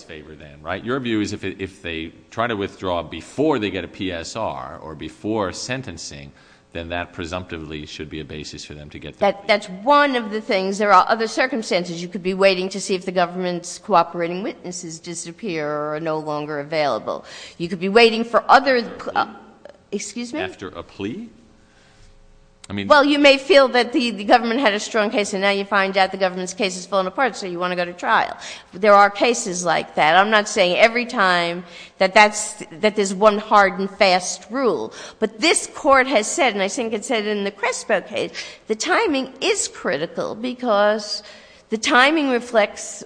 Your view is if they try to withdraw before they get a PSR or before sentencing, then that presumptively should be a basis for them to get that. That's one of the things. There are other circumstances. You could be waiting to see if the government's cooperating witnesses disappear or are no longer available. You could be waiting for other – excuse me? After a plea? Well, you may feel that the government had a strong case, and now you find out the government's case has fallen apart, so you want to go to trial. There are cases like that. I'm not saying every time that that's – that there's one hard and fast rule. But this court has said, and I think it said it in the Crespo case, the timing is critical because the timing reflects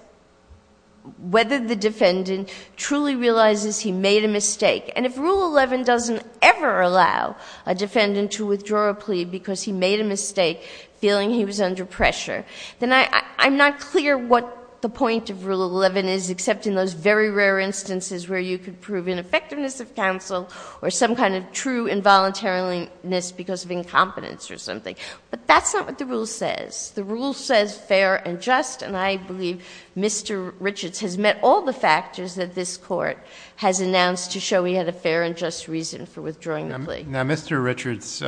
whether the defendant truly realizes he made a mistake. And if Rule 11 doesn't ever allow a defendant to withdraw a plea because he made a mistake, feeling he was under pressure, then I'm not clear what the point of Rule 11 is, except in those very rare instances where you could prove ineffectiveness of counsel or some kind of true involuntariness because of incompetence or something. But that's not what the rule says. The rule says fair and just, and I believe Mr. Richards has met all the factors that this court has announced to show he had a fair and just reason for withdrawing a plea. Now, Mr. Richards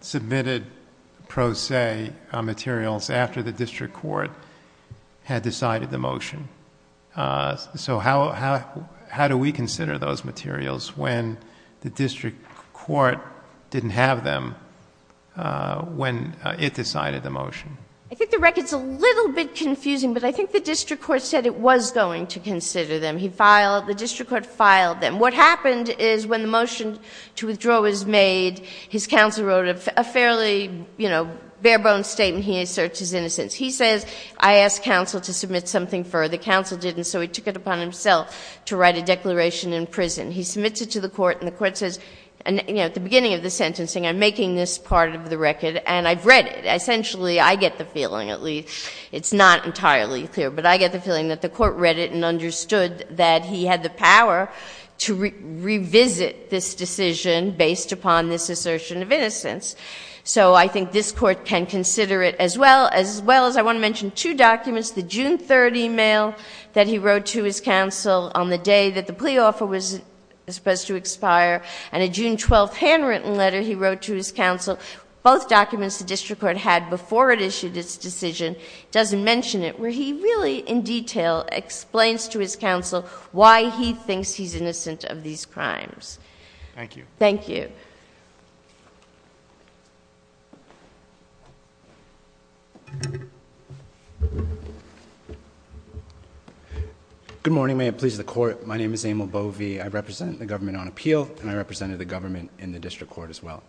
submitted pro se materials after the district court had decided the motion. So how do we consider those materials when the district court didn't have them when it decided the motion? I think the record's a little bit confusing, but I think the district court said it was going to consider them. He filed – the district court filed them. What happened is when the motion to withdraw was made, his counsel wrote a fairly, you know, bare-bones statement. He asserts his innocence. He says, I asked counsel to submit something further. Counsel didn't, so he took it upon himself to write a declaration in prison. He submits it to the court, and the court says, you know, at the beginning of the sentencing, I'm making this part of the record, and I've read it. Essentially, I get the feeling, at least. It's not entirely clear, but I get the feeling that the court read it and understood that he had the power to revisit this decision based upon this assertion of innocence. So I think this court can consider it as well, as well as I want to mention two documents, the June 30 mail that he wrote to his counsel on the day that the plea offer was supposed to expire, and a June 12 handwritten letter he wrote to his counsel, both documents the district court had before it issued its decision. It doesn't mention it, where he really, in detail, explains to his counsel why he thinks he's innocent of these crimes. Thank you. Thank you. Good morning, may it please the court. My name is Emil Bovee. I represent the government on appeal, and I represented the government in the district court as well.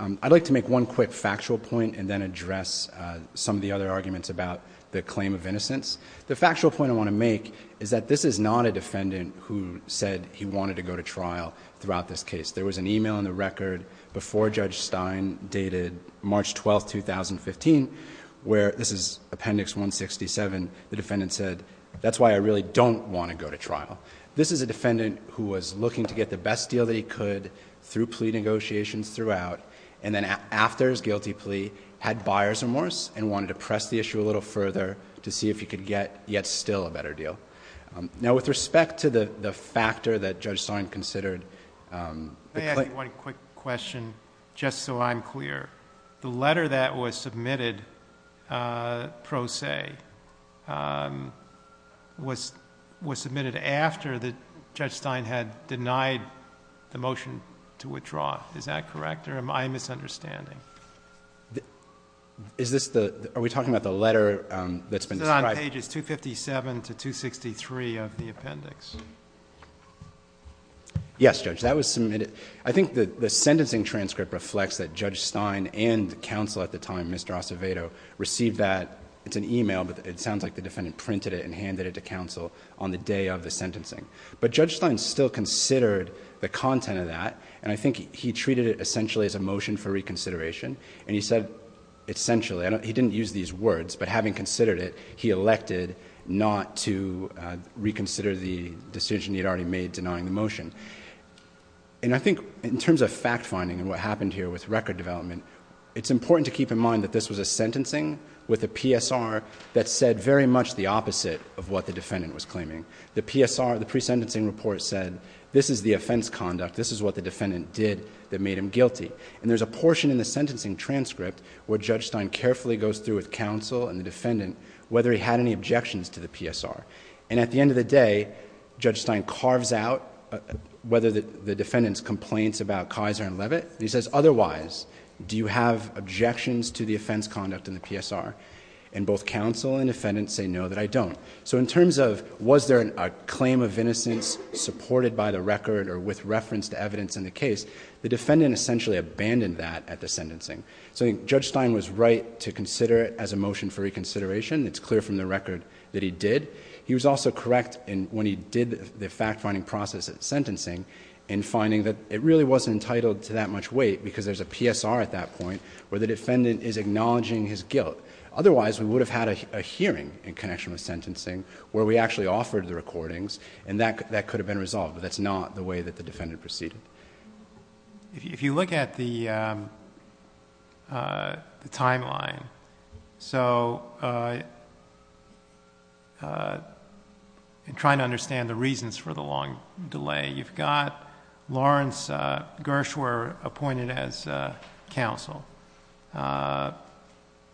I'd like to make one quick factual point and then address some of the other arguments about the claim of innocence. The factual point I want to make is that this is not a defendant who said he wanted to go to trial throughout this case. There was an e-mail in the record before Judge Stein dated March 12, 2015, where this is Appendix 167, the defendant said, that's why I really don't want to go to trial. This is a defendant who was looking to get the best deal that he could through plea negotiations throughout, and then after his guilty plea, had buyer's remorse, and wanted to press the issue a little further to see if he could get yet still a better deal. Now, with respect to the factor that Judge Stein considered. May I ask you one quick question, just so I'm clear. The letter that was submitted pro se was submitted after Judge Stein had denied the motion to withdraw. Is that correct, or am I misunderstanding? Are we talking about the letter that's been described? Pages 257 to 263 of the appendix. Yes, Judge. That was submitted. I think the sentencing transcript reflects that Judge Stein and counsel at the time, Mr. Acevedo, received that. It's an e-mail, but it sounds like the defendant printed it and handed it to counsel on the day of the sentencing. But Judge Stein still considered the content of that, and I think he treated it essentially as a motion for reconsideration, and he said essentially. He didn't use these words, but having considered it, he elected not to reconsider the decision he'd already made denying the motion. And I think in terms of fact-finding and what happened here with record development, it's important to keep in mind that this was a sentencing with a PSR that said very much the opposite of what the defendant was claiming. The PSR, the pre-sentencing report said, this is the offense conduct, this is what the defendant did that made him guilty. And there's a portion in the sentencing transcript where Judge Stein carefully goes through with counsel and the defendant whether he had any objections to the PSR. And at the end of the day, Judge Stein carves out whether the defendant's complaints about Kaiser and Levitt. He says, otherwise, do you have objections to the offense conduct in the PSR? And both counsel and defendant say, no, that I don't. So in terms of was there a claim of innocence supported by the record or with reference to evidence in the case, the defendant essentially abandoned that at the sentencing. So Judge Stein was right to consider it as a motion for reconsideration. It's clear from the record that he did. He was also correct when he did the fact-finding process at sentencing in finding that it really wasn't entitled to that much weight because there's a PSR at that point where the defendant is acknowledging his guilt. Otherwise, we would have had a hearing in connection with sentencing where we actually offered the recordings and that could have been resolved, but that's not the way that the defendant proceeded. If you look at the timeline, so in trying to understand the reasons for the long delay, you've got Lawrence Gershwer appointed as counsel.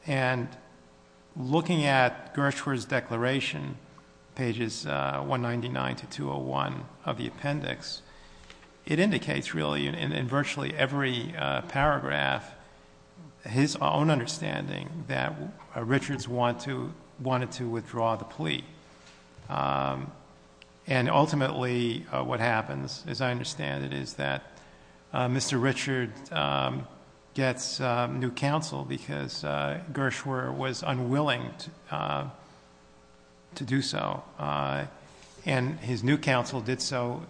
And looking at Gershwer's declaration, pages 199 to 201 of the appendix, it indicates really in virtually every paragraph his own understanding that Richards wanted to withdraw the plea. And ultimately what happens, as I understand it, is that Mr. Richards gets new counsel because Gershwer was unwilling to do so. And his new counsel did so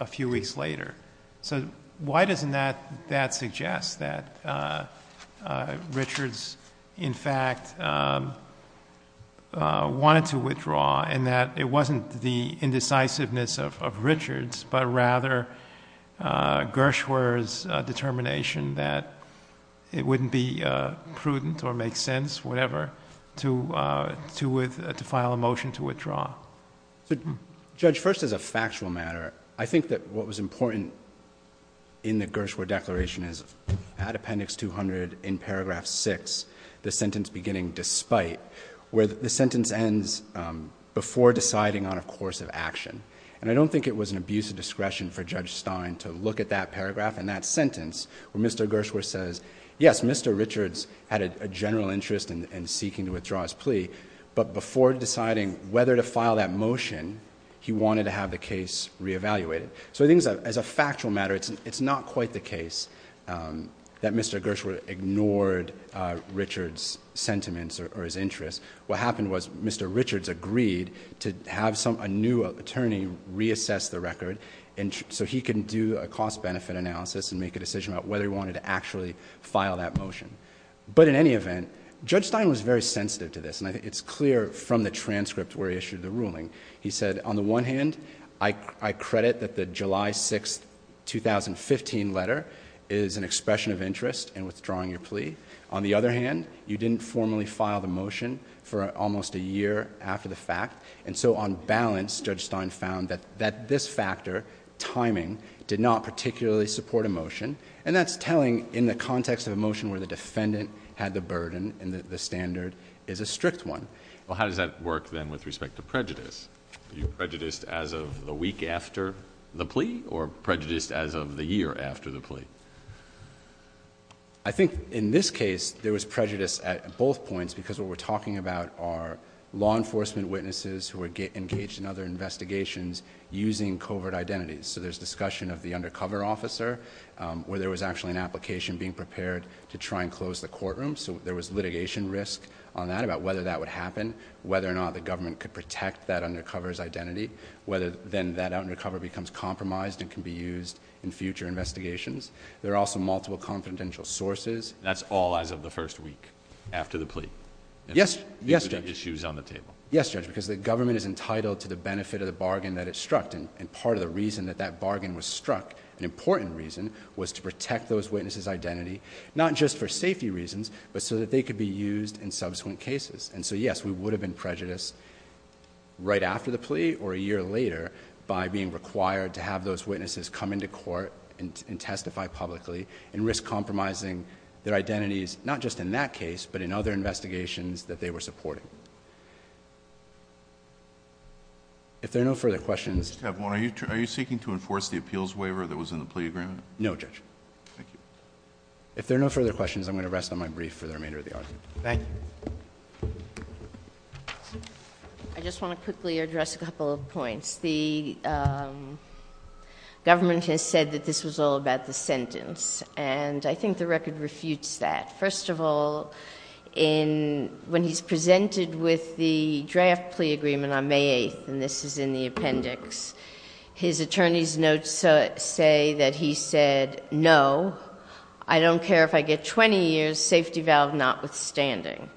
a few weeks later. So why doesn't that suggest that Richards, in fact, wanted to withdraw and that it wasn't the indecisiveness of Richards, but rather Gershwer's determination that it wouldn't be prudent or make sense, whatever, to file a motion to withdraw? Judge, first as a factual matter, I think that what was important in the Gershwer declaration is at appendix 200 in paragraph 6, the sentence beginning despite, where the sentence ends before deciding on a course of action. And I don't think it was an abuse of discretion for Judge Stein to look at that paragraph and that sentence when Mr. Gershwer says, yes, Mr. Richards had a general interest in seeking to withdraw his plea, but before deciding whether to file that motion, he wanted to have the case reevaluated. So I think as a factual matter, it's not quite the case that Mr. Gershwer ignored Richards' sentiments or his interests. What happened was Mr. Richards agreed to have a new attorney reassess the record so he can do a cost-benefit analysis and make a decision about whether he wanted to actually file that motion. But in any event, Judge Stein was very sensitive to this, and it's clear from the transcript where he issued the ruling. He said, on the one hand, I credit that the July 6, 2015 letter is an expression of interest in withdrawing your plea. On the other hand, you didn't formally file the motion for almost a year after the fact. And so on balance, Judge Stein found that this factor, timing, did not particularly support a motion, and that's telling in the context of a motion where the defendant had the burden and the standard is a strict one. Well, how does that work then with respect to prejudice? Is it prejudice as of the week after the plea or prejudice as of the year after the plea? I think in this case, there was prejudice at both points because what we're talking about are law enforcement witnesses who are engaged in other investigations using covert identities. So there's discussion of the undercover officer where there was actually an application being prepared to try and close the courtroom. So there was litigation risk on that about whether that would happen, whether or not the government could protect that undercover's identity, whether then that undercover becomes compromised and can be used in future investigations. There are also multiple confidential sources. That's all as of the first week after the plea? Yes, Judge, because the government is entitled to the benefit of the bargain that it struck, and part of the reason that that bargain was struck, an important reason, was to protect those witnesses' identity, not just for safety reasons, but so that they could be used in subsequent cases. And so, yes, we would have been prejudiced right after the plea or a year later by being required to have those witnesses come into court and testify publicly and risk compromising their identities, not just in that case but in other investigations that they were supporting. If there are no further questions... Are you seeking to enforce the appeals waiver that was in the plea agreement? No, Judge. Thank you. If there are no further questions, I'm going to rest on my brief for the remainder of the audience. Thank you. I just want to quickly address a couple of points. The government has said that this was all about the sentence, and I think the record refutes that. First of all, when he's presented with the draft plea agreement on May 8th, and this is in the appendix, his attorney's notes say that he said, no, I don't care if I get 20 years, safety valve notwithstanding.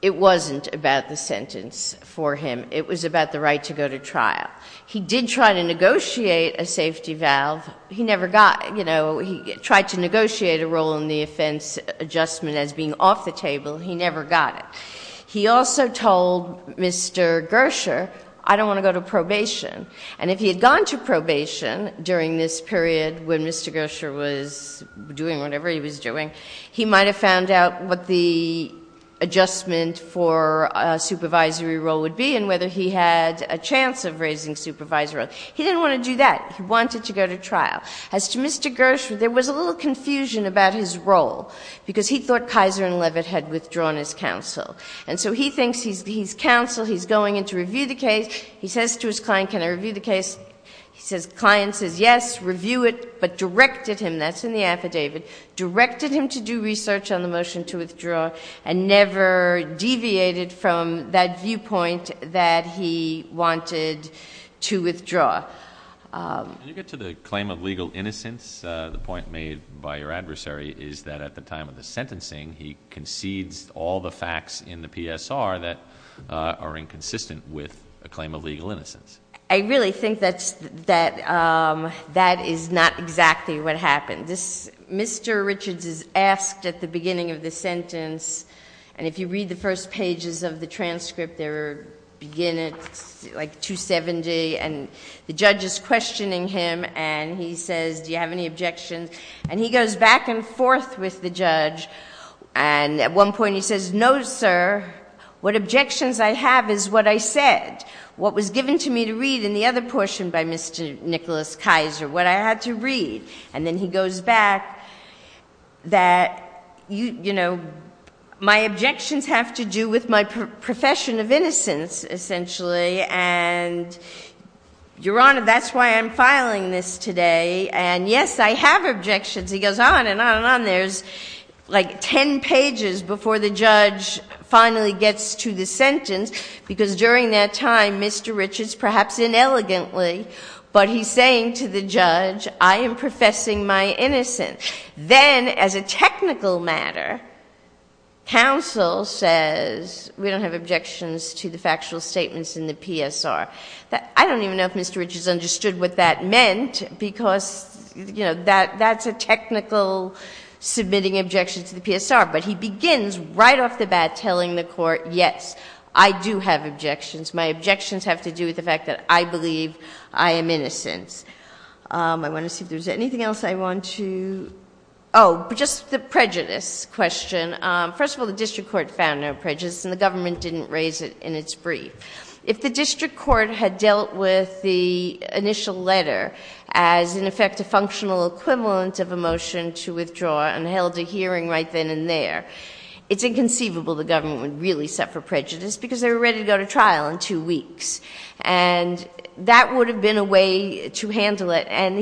It wasn't about the sentence for him. It was about the right to go to trial. He did try to negotiate a safety valve. He tried to negotiate a role in the offense adjustment as being off the table. He never got it. He also told Mr. Gersher, I don't want to go to probation. And if he had gone to probation during this period when Mr. Gersher was doing whatever he was doing, he might have found out what the adjustment for a supervisory role would be and whether he had a chance of raising supervisory roles. He didn't want to do that. He wanted to go to trial. As to Mr. Gersher, there was a little confusion about his role because he thought Kaiser and Levitt had withdrawn his counsel. And so he thinks he's counsel, he's going in to review the case. He says to his client, can I review the case? His client says, yes, review it, but directed him, that's in the affidavit, directed him to do research on the motion to withdraw and never deviated from that viewpoint that he wanted to withdraw. Did you get to the claim of legal innocence? The point made by your adversary is that at the time of the sentencing, he concedes all the facts in the PSR that are inconsistent with a claim of legal innocence. I really think that that is not exactly what happened. Mr. Richards is asked at the beginning of the sentence, and if you read the first pages of the transcript, they begin at like 270, and the judge is questioning him, and he says, do you have any objections? And he goes back and forth with the judge, and at one point he says, no, sir, what objections I have is what I said, what was given to me to read in the other portion by Mr. Nicholas Kaiser, what I had to read. And then he goes back that, you know, my objections have to do with my profession of innocence, essentially, and your Honor, that's why I'm filing this today, and yes, I have objections. He goes on and on and on. There's like ten pages before the judge finally gets to the sentence, because during that time, Mr. Richards, perhaps inelegantly, but he's saying to the judge, I am professing my innocence. Then, as a technical matter, counsel says we don't have objections to the factual statements in the PSR. I don't even know if Mr. Richards understood what that meant, because, you know, that's a technical submitting objections to the PSR, but he begins right off the bat telling the court, yes, I do have objections. My objections have to do with the fact that I believe I am innocent. I want to see if there's anything else I want to... Oh, just the prejudice question. First of all, the district court found no prejudice, and the government didn't raise it in its brief. If the district court had dealt with the initial letter as, in effect, a functional equivalent of a motion to withdraw and held a hearing right then and there, it's inconceivable the government would really set for prejudice, because they were ready to go to trial in two weeks, and that would have been a way to handle it, and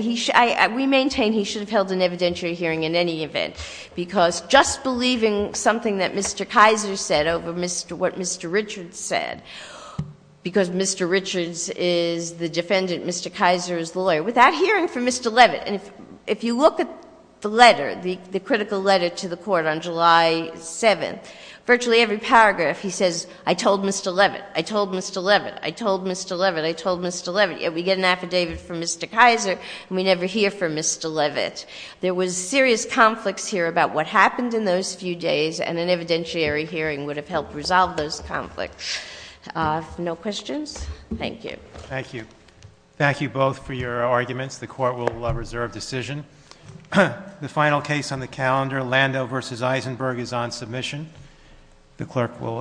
we maintain he should have held an evidentiary hearing in any event, because just believing something that Mr. Kaiser said over what Mr. Richards said, because Mr. Richards is the defendant, Mr. Kaiser is the lawyer, without hearing from Mr. Leavitt, if you look at the letter, the critical letter to the court on July 7th, virtually every paragraph he says, I told Mr. Leavitt, I told Mr. Leavitt, I told Mr. Leavitt, I told Mr. Leavitt, yet we get an affidavit from Mr. Kaiser and we never hear from Mr. Leavitt. There was serious conflicts here about what happened in those few days, and an evidentiary hearing would have helped resolve those conflicts. No questions? Thank you. Thank you. Thank you both for your arguments. The court will reserve decision. The final case on the calendar, Lando v. Eisenberg, is on submission. The clerk will adjourn court.